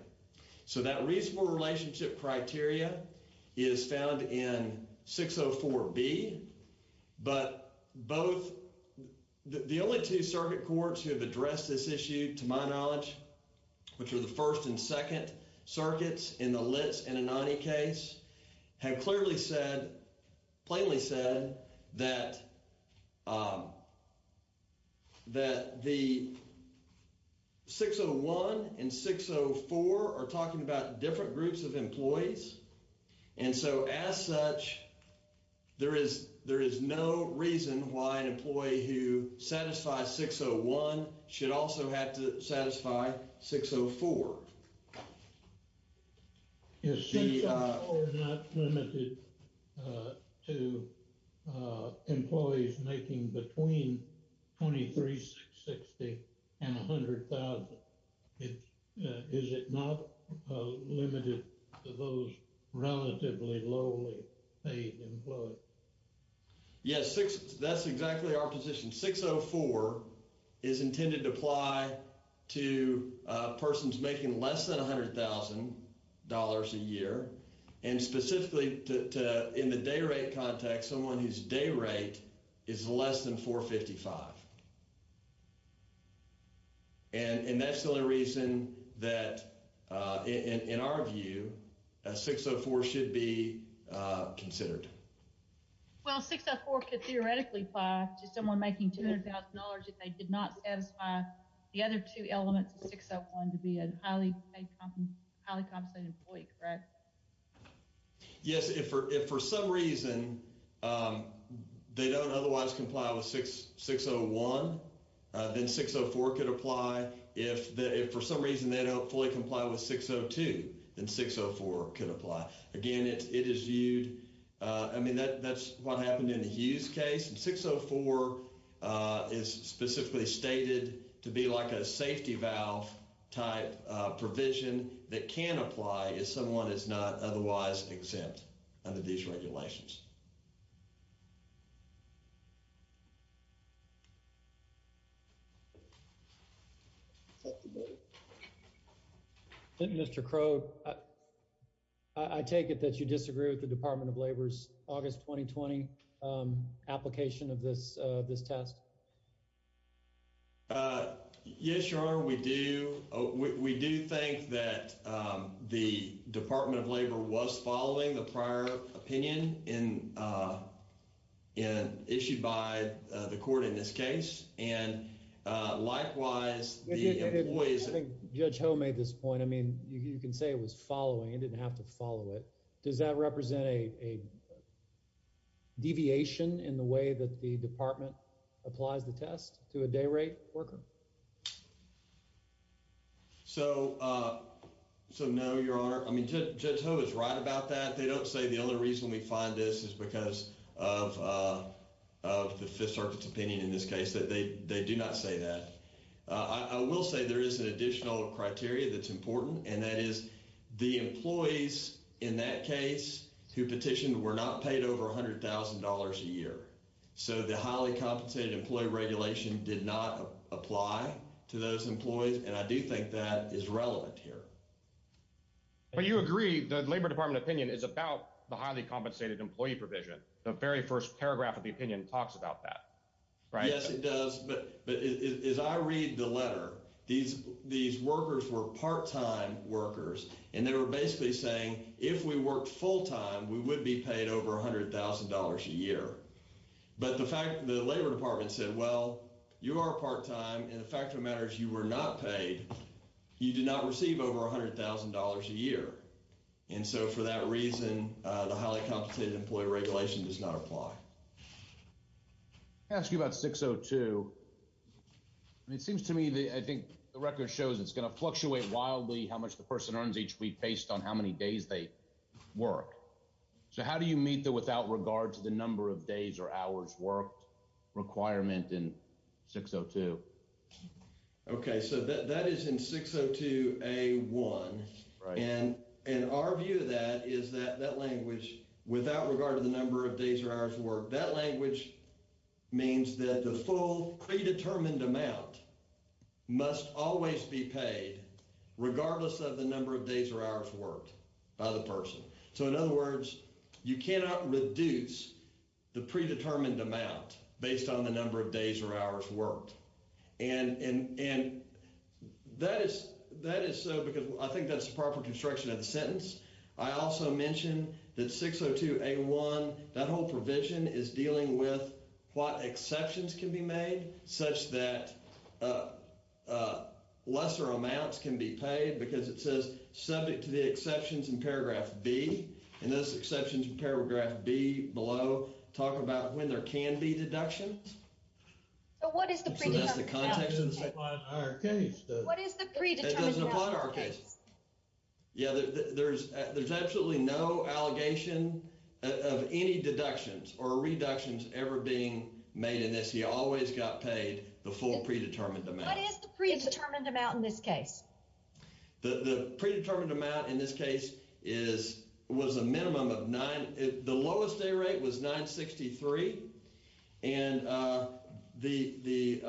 So that reasonable relationship criteria is found in 604B. But both, the only two circuit courts who have addressed this issue, to my knowledge, which are the First and Second Circuits in the and 604 are talking about different groups of employees. And so as such, there is no reason why an employee who satisfies 601 should also have to satisfy 604. Is 604 not limited to employees making between $23,660 and $100,000? Is it not limited to those relatively lowly paid employees? Yes, that's exactly our position. 604 is intended to apply to persons making less than $100,000 a year and specifically in the day rate context, someone whose day rate is less than 455. And that's the only reason that, in our view, 604 should be considered. Well, 604 could theoretically apply to someone making $200,000 if they did not satisfy the other two elements of 601 to be a highly compensated employee, correct? Yes, if for some reason they don't otherwise comply with 601, then 604 could apply. If for some reason they don't fully comply with 602, then 604 could apply. Again, it is viewed I mean, that's what happened in the Hughes case. 604 is specifically stated to be like a safety valve type provision that can apply if someone is not otherwise exempt under these regulations. Mr. Crow, I take it that you disagree with the Department of Labor's August 2020 application of this test? Yes, Your Honor, we do. We do think that the Department of Labor was following the opinion issued by the court in this case. And likewise, the employees... I think Judge Ho made this point. I mean, you can say it was following. It didn't have to follow it. Does that represent a deviation in the way that the Department applies the test to a day rate worker? So no, Your Honor. I mean, Judge Ho is right about that. They don't say the only reason we find this is because of the Fifth Circuit's opinion in this case. They do not say that. I will say there is an additional criteria that's important, and that is the employees in that case who petitioned were not paid over $100,000 a year. So the highly compensated employee regulation did not apply to those employees, and I do think that is relevant here. But you agree the Labor Department opinion is about the highly compensated employee provision. The very first paragraph of the opinion talks about that, right? Yes, it does. But as I read the letter, these workers were part-time workers, and they were basically saying if we worked full-time, we would be paid over $100,000 a year. But the Labor Department said, well, you are part-time, and the fact of the matter is you were not paid. You did not receive over $100,000 a year. And so for that reason, the highly compensated employee regulation does not apply. I'll ask you about 602. It seems to me that I think the record shows it's going to fluctuate wildly how much the person earns each week based on how you meet the without regard to the number of days or hours worked requirement in 602. Okay, so that is in 602A1, and our view of that is that that language, without regard to the number of days or hours worked, that language means that the full predetermined amount must always be paid regardless of the number of days or hours worked by the person. So in other words, you cannot reduce the predetermined amount based on the number of days or hours worked. And that is so because I think that's the proper construction of the sentence. I also mentioned that 602A1, that whole provision is dealing with what exceptions can be made such that lesser amounts can be paid because it says subject to the exceptions in paragraph B, and those exceptions in paragraph B below talk about when there can be deductions. So what is the predetermined amount? What is the predetermined amount? Yeah, there's absolutely no allegation of any deductions or reductions ever being made in this. You always got paid the full predetermined amount. What is the predetermined amount in this case? The predetermined amount in this case is, was the minimum of nine, the lowest day rate was 963, and the,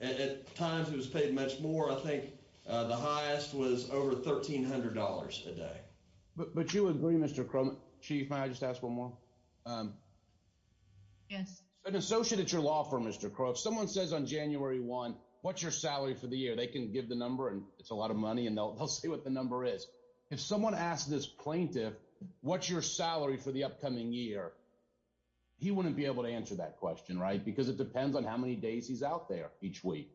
at times it was paid much more. I think the highest was over $1,300 today. But you agree, Mr. Crump, Chief, may I just ask one more? Yes. An associate at your law firm, Mr. Crump, someone says on January 1, what's your salary for the year? They can give the number, and it's a lot of money, and they'll say what the number is. If someone asked this plaintiff, what's your salary for the upcoming year? He wouldn't be able to answer that question, right? Because it depends on how many days he's out there each week.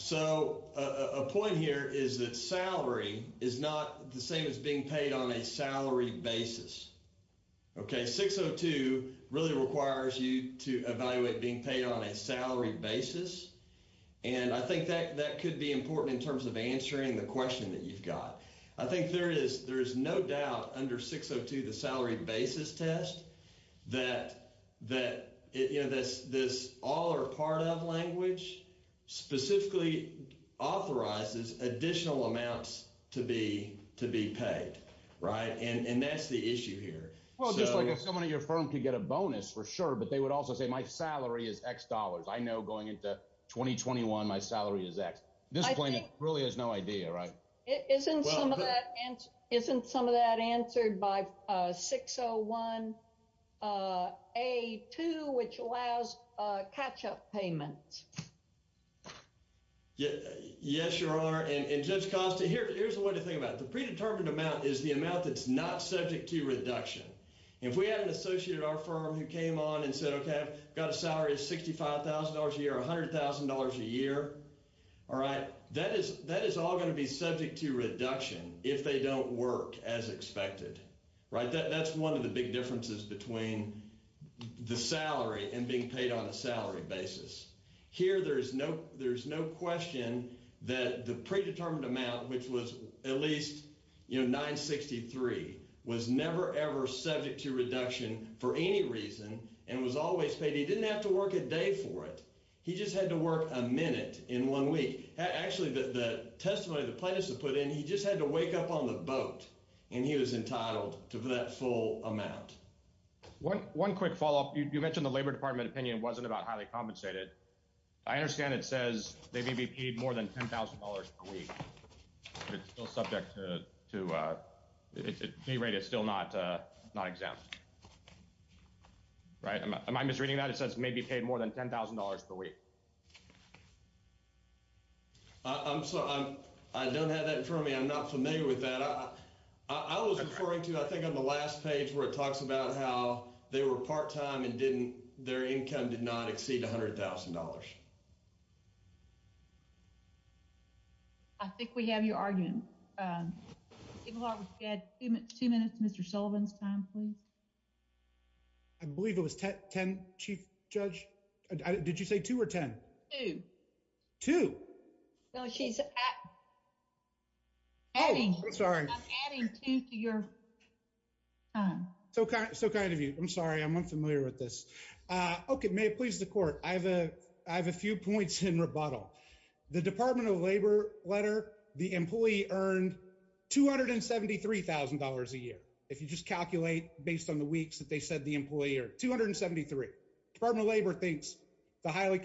So a point here is that salary is not the same as being paid on a salary basis. Okay, 602 really requires you to evaluate being paid on a salary basis, and I think that could be important in terms of answering the question that you've got. I think there is no doubt under 602, the salary basis test, that this all or part of language specifically authorizes additional amounts to be paid, right? And that's the issue here. Well, just like if someone at your firm could get a bonus, for sure, but they would also say, my salary is X dollars. I know going into 2021, my salary is X. This plaintiff really has no idea, right? Isn't some of that answered by 601A2, which allows catch-up payments? Yes, your honor. And just constantly, here's the thing about the predetermined amount is the amount that's not subject to reduction. If we had an associate at our firm who came on and said, okay, got a salary of $65,000 a year or $100,000 a year, all right, that is all going to be subject to reduction if they don't work as expected, right? That's one of the big differences between the salary and being paid on a salary basis. Here, there's no question that the predetermined amount, which was at least, you know, 963, was never ever subject to reduction for any reason and was always said he didn't have to work a day for it. He just had to work a minute in one week. Actually, the testimony the plaintiffs have put in, he just had to wake up on the boat and he was entitled to that full amount. One quick follow-up. You mentioned the Labor Department opinion wasn't about highly compensated. I understand it says they may be paid more than $10,000 per week. It's still subject to a pay rate that's still not exempt. Right? Am I misreading that? It says they may be paid more than $10,000 per week. I'm sorry. I don't have that in front of me. I'm not familiar with that. I was referring to, I think, on the last page where it talks about how they were part-time and their income did not exceed $100,000. I think we have your argument. Two minutes, Mr. Sullivan's time, please. I believe it was 10, Chief Judge. Did you say 2 or 10? 2. No, she said 8. Oh, I'm sorry. I'm adding 2 to your time. So kind of you. I'm sorry. I'm not familiar with this. Okay. May it please the Court, I have a few points in rebuttal. The Department of Labor letter, the employee earned $273,000 a year, if you just calculate based on the weeks that they said the employee earned. $273,000. The Department of Labor thinks the highly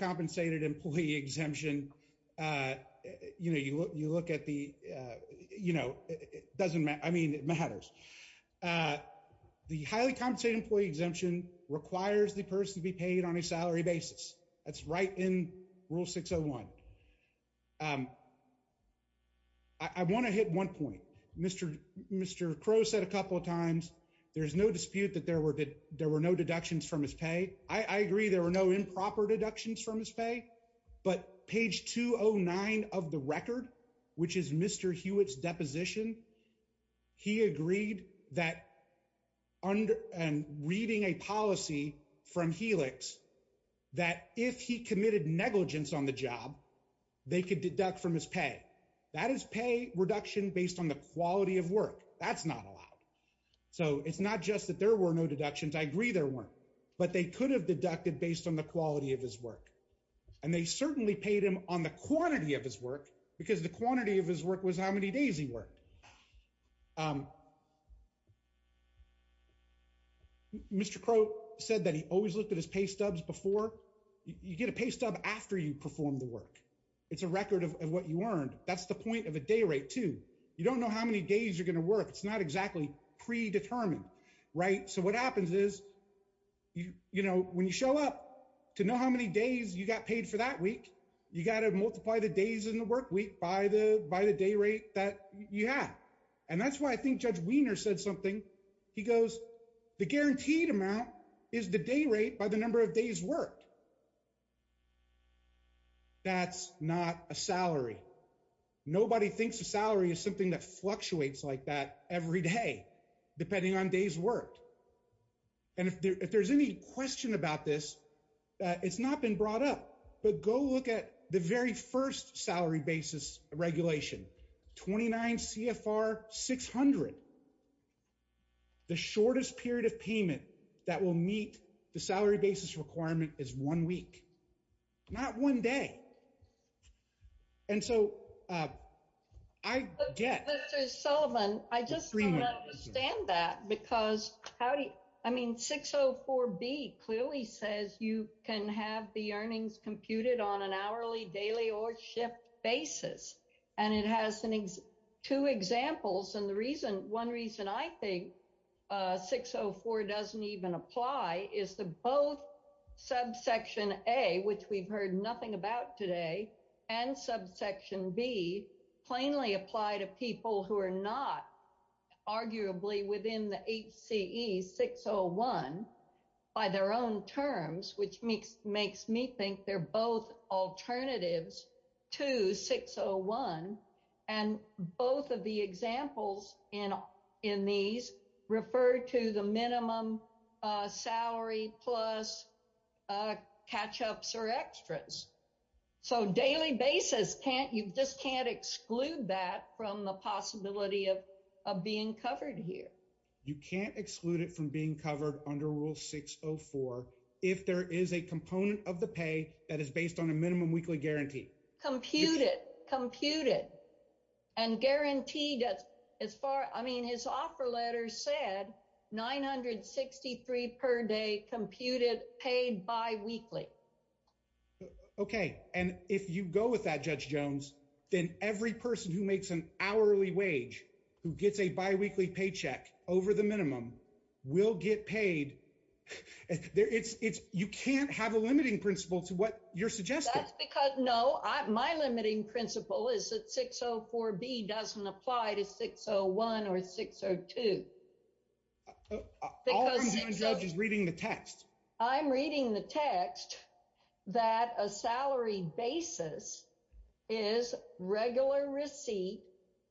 you know, it doesn't matter. I mean, it matters. The highly compensated employee exemption requires the person to be paid on a salary basis. That's right in Rule 601. I want to hit one point. Mr. Crow said a couple of times there's no dispute that there were no deductions from his pay. I agree there were no improper deductions from his pay, but page 209 of the record, which is Mr. Hewitt's deposition, he agreed that under and reading a policy from Helix, that if he committed negligence on the job, they could deduct from his pay. That is pay reduction based on the quality of work. That's not allowed. So it's not just that there were no deductions. I agree there weren't, but they could have deducted based on the quality of his work. And they certainly paid him on the quantity of his work because the quantity of his work was how many days he worked. Mr. Crow said that he always looked at his pay stubs before. You get a pay stub after you perform the work. It's a record of what you earned. That's the point of a day rate too. You don't know how many days you're going to work. It's not exactly predetermined. So what happens is when you show up to know how many days you got paid for that week, you got to multiply the days in the work week by the day rate that you have. And that's why I think Judge Wiener said something. He goes, the guaranteed amount is the day rate by the number of days worked. That's not a salary. Nobody thinks a salary is something that fluctuates like every day, depending on days worked. And if there's any question about this, it's not been brought up, but go look at the very first salary basis regulation, 29 CFR 600. The shortest period of payment that will meet the salary basis requirement is one week, not one day. And so I, yeah. Mr. Sullivan, I just don't understand that because how do you, I mean, 604B clearly says you can have the earnings computed on an hourly, daily, or shift basis. And it has two examples. And the reason, one reason I think 604 doesn't even apply is the both subsection A, which we've heard nothing about today and subsection B plainly apply to people who are not arguably within the HCE 601 by their own terms, which makes me think they're both alternatives to 601. And both of the examples in these refer to the minimum salary plus catch-ups or extras. So daily basis can't, you just can't exclude that from the possibility of being covered here. You can't exclude it from being covered under rule 604. If there is a component of the pay that is based on a minimum weekly guarantee. Computed, computed, and guaranteed as far, I mean, his offer letter said 963 per day computed paid biweekly. Okay. And if you go with that, Judge Jones, then every person who makes an hourly wage who gets a biweekly paycheck over the minimum will get paid. You can't have a limiting principle to what you're suggesting. That's because, no, my limiting principle is that 604B doesn't apply to 601 or 602. All I'm doing, Judge, is reading the text. I'm reading the text that a salary basis is regular receipt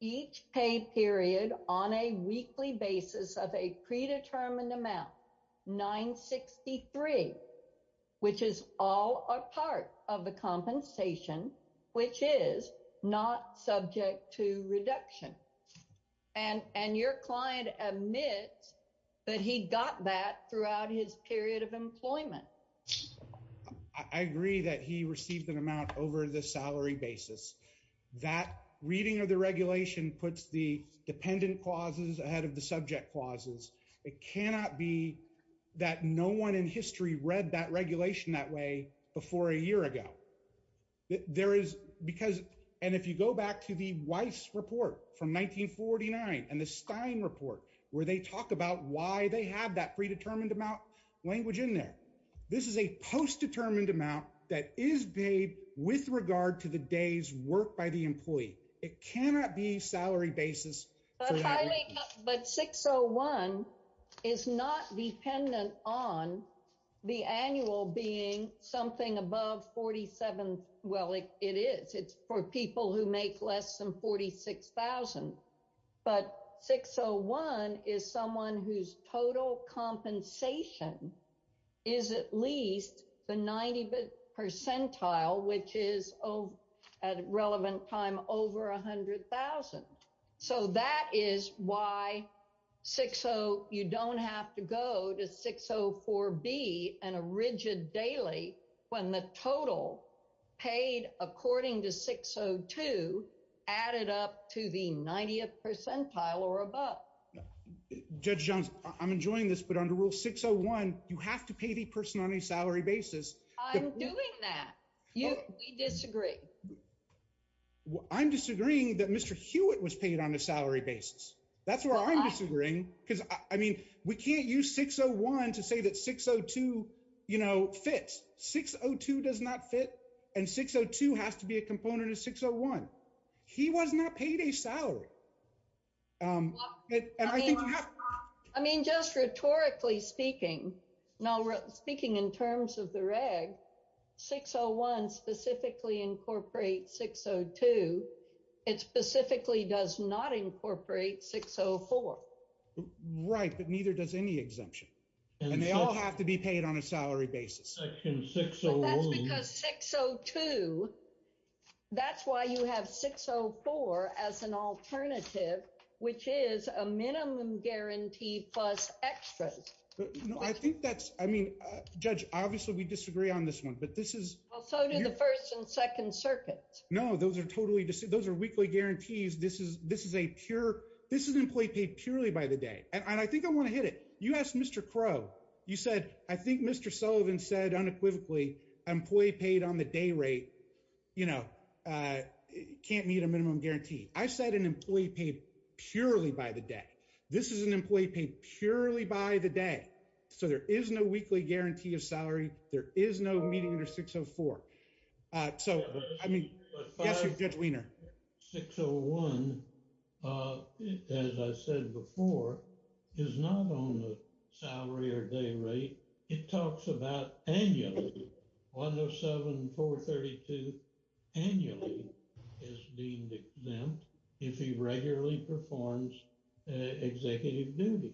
each pay period on a weekly basis of a predetermined amount, 963, which is all a part of the compensation, which is not subject to reduction. And your client admits that he got that throughout his period of employment. I agree that he received an amount over the salary basis. That reading of the regulation puts the dependent clauses ahead of the subject clauses. It cannot be that no one in history read that regulation that way before a year ago. There is, because, and if you go back to the Weiss report from 1949 and the Stein report, where they talk about why they have that predetermined amount, language in there. This is a post-determined amount that is paid with regard to the day's work by the employee. It cannot be salary basis. But 601 is not dependent on the annual being something above 47. Well, it is. It's for people who make less than 46,000. But 601 is someone whose total compensation is at least the 90 percentile, which is at relevant time over 100,000. So that is why 60, you don't have to go to 604B and a rigid daily when the total paid according to 602 added up to the 90th percentile or above. Judge Johns, I'm enjoying this, but under rule 601, you have to pay the person on a salary basis. I'm doing that. You disagree. I'm disagreeing that Mr. Hewitt was paid on a salary basis. That's where I'm disagreeing. Because, I mean, we can't use 601 to say that 602, you know, fits. 602 does not fit. And 602 has to be a component of 601. He was not paid a salary. I mean, just rhetorically speaking, speaking in terms of the reg, 601 specifically incorporates 602. It specifically does not incorporate 604. Right, but neither does any exemption. And they all have to be paid on a salary basis. 602, that's why you have 604 as an alternative, which is a minimum guarantee plus extra. I think that's, I mean, Judge, obviously we disagree on this one, but this is. Well, so do the first and second circuits. No, those are totally, those are weekly guarantees. This is, this is a pure, this is an employee paid purely by the day. And I think I want to hit it. You asked Mr. Crow, you said, I think Mr. Sullivan said unequivocally, employee paid on the day rate, you know, can't meet a minimum guarantee. I said an employee paid purely by the day. This is an employee paid purely by the day. So there is no weekly guarantee of salary. There is no meeting under 604. So, I mean, Judge Weiner. 601, as I said before, is not on the salary or day rate. It talks about annually. 107, 432 annually is deemed exempt if he regularly performs executive duty.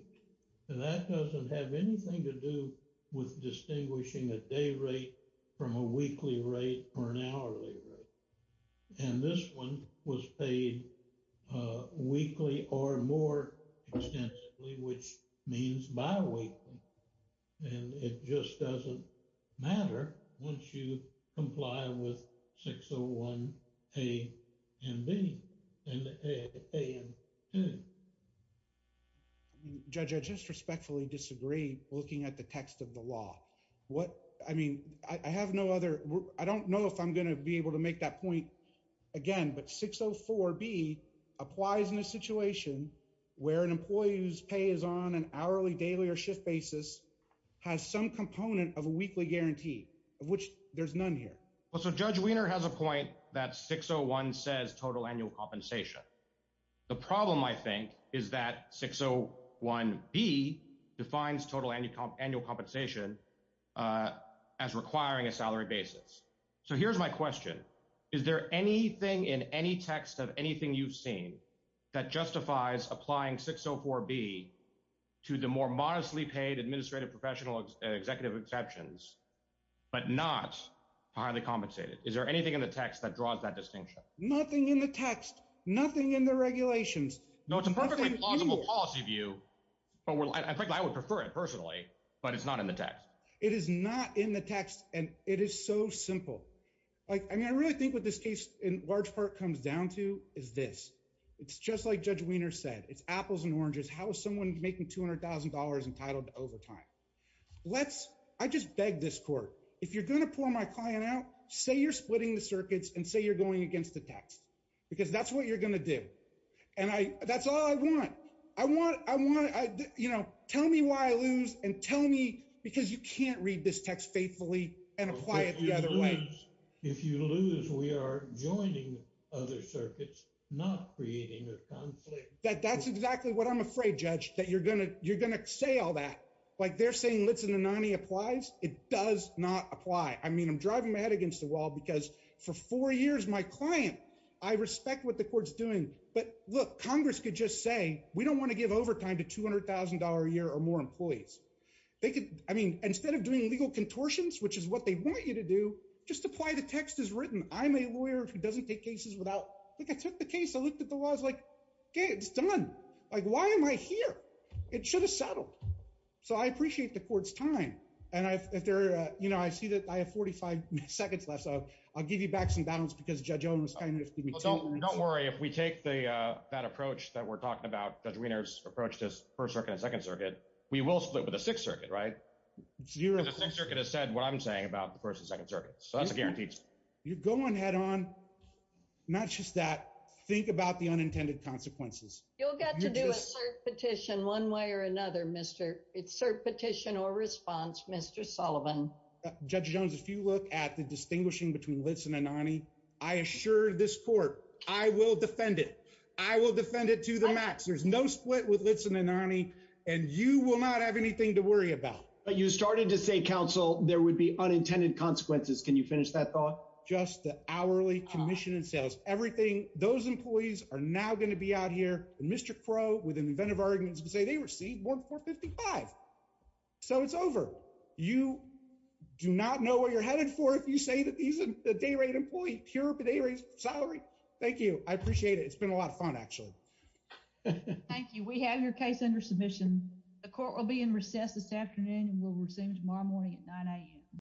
And that doesn't have anything to do with distinguishing a day rate from a weekly rate or an hourly rate. And this one was paid weekly or more extensively, which means bi-weekly. And it just doesn't matter once you comply with 601 A and B and the A and N. Judge, I just respectfully disagree looking at the text of the law. What, I mean, I have no other, I don't know if I'm going to be able to make that point again, but 604 B applies in a situation where an employee whose pay is on an hourly, daily, or shift basis has some component of a weekly guarantee of which there's none here. Well, so Judge Weiner has a point that 601 says total annual compensation. The problem, I think, is that 601 B defines total annual compensation as requiring a salary basis. So here's my question. Is there anything in any text of executive exceptions, but not highly compensated? Is there anything in the text that draws that distinction? Nothing in the text, nothing in the regulations. No, it's a perfectly plausible policy view, but I would prefer it personally, but it's not in the text. It is not in the text and it is so simple. Like, I mean, I really think what this case in large part comes down to is this. It's just like Judge Weiner said, it's apples and oranges. How is someone making $200,000 entitled to overtime? Let's, I just beg this court, if you're going to pull my client out, say you're splitting the circuits and say you're going against the text, because that's what you're going to do. And that's all I want. I want, you know, tell me why I lose and tell me because you can't read this text faithfully and apply it the other way. If you lose, we are joining other circuits, not creating a conflict. That's exactly what I'm afraid, Judge, that you're going to say all that. Like they're saying Litz and Anani applies. It does not apply. I mean, I'm driving my head against the wall because for four years, my client, I respect what the court's doing, but look, Congress could just say, we don't want to give overtime to $200,000 a year or more employees. They could, I mean, instead of doing legal contortions, which is what they want you to do, just apply the text as written. I'm a lawyer who doesn't take cases without, like I took the case, I looked at the laws, like, okay, it's done. Like, why am I here? It should have settled. So I appreciate the court's time. And I, if there, you know, I see that I have 45 seconds left. So I'll give you back some balance because Judge Owens, Don't worry. If we take the, uh, that approach that we're talking about, Judge Wiener's approach to first circuit and second circuit, we will split with the sixth circuit, right? The sixth circuit has said what I'm saying about the first and second circuit. So that's a guarantee. You go on head on, not just that, think about the unintended consequences. You'll get to do a cert petition one way or another, Mr. Cert petition or response, Mr. Sullivan. Judge Jones, if you look at the distinguishing between Litz and Anani, I assure this court, I will defend it. I will defend it to the max. There's no split with Litz and Anani and you will not have anything to worry about. But you started to say, counsel, there would be unintended consequences. Can you finish that thought? Just the hourly commission says everything. Those employees are now going to be out here. And Mr. Crow with an event of arguments and say they received $1.55. So it's over. You do not know where you're headed for if you say that these are the day rate employees. Here are the day rates, salary. Thank you. I appreciate it. It's been a lot of fun, actually. Thank you. We have your case under submission. The court will be in recess this afternoon and will resume tomorrow morning at 9 a.m.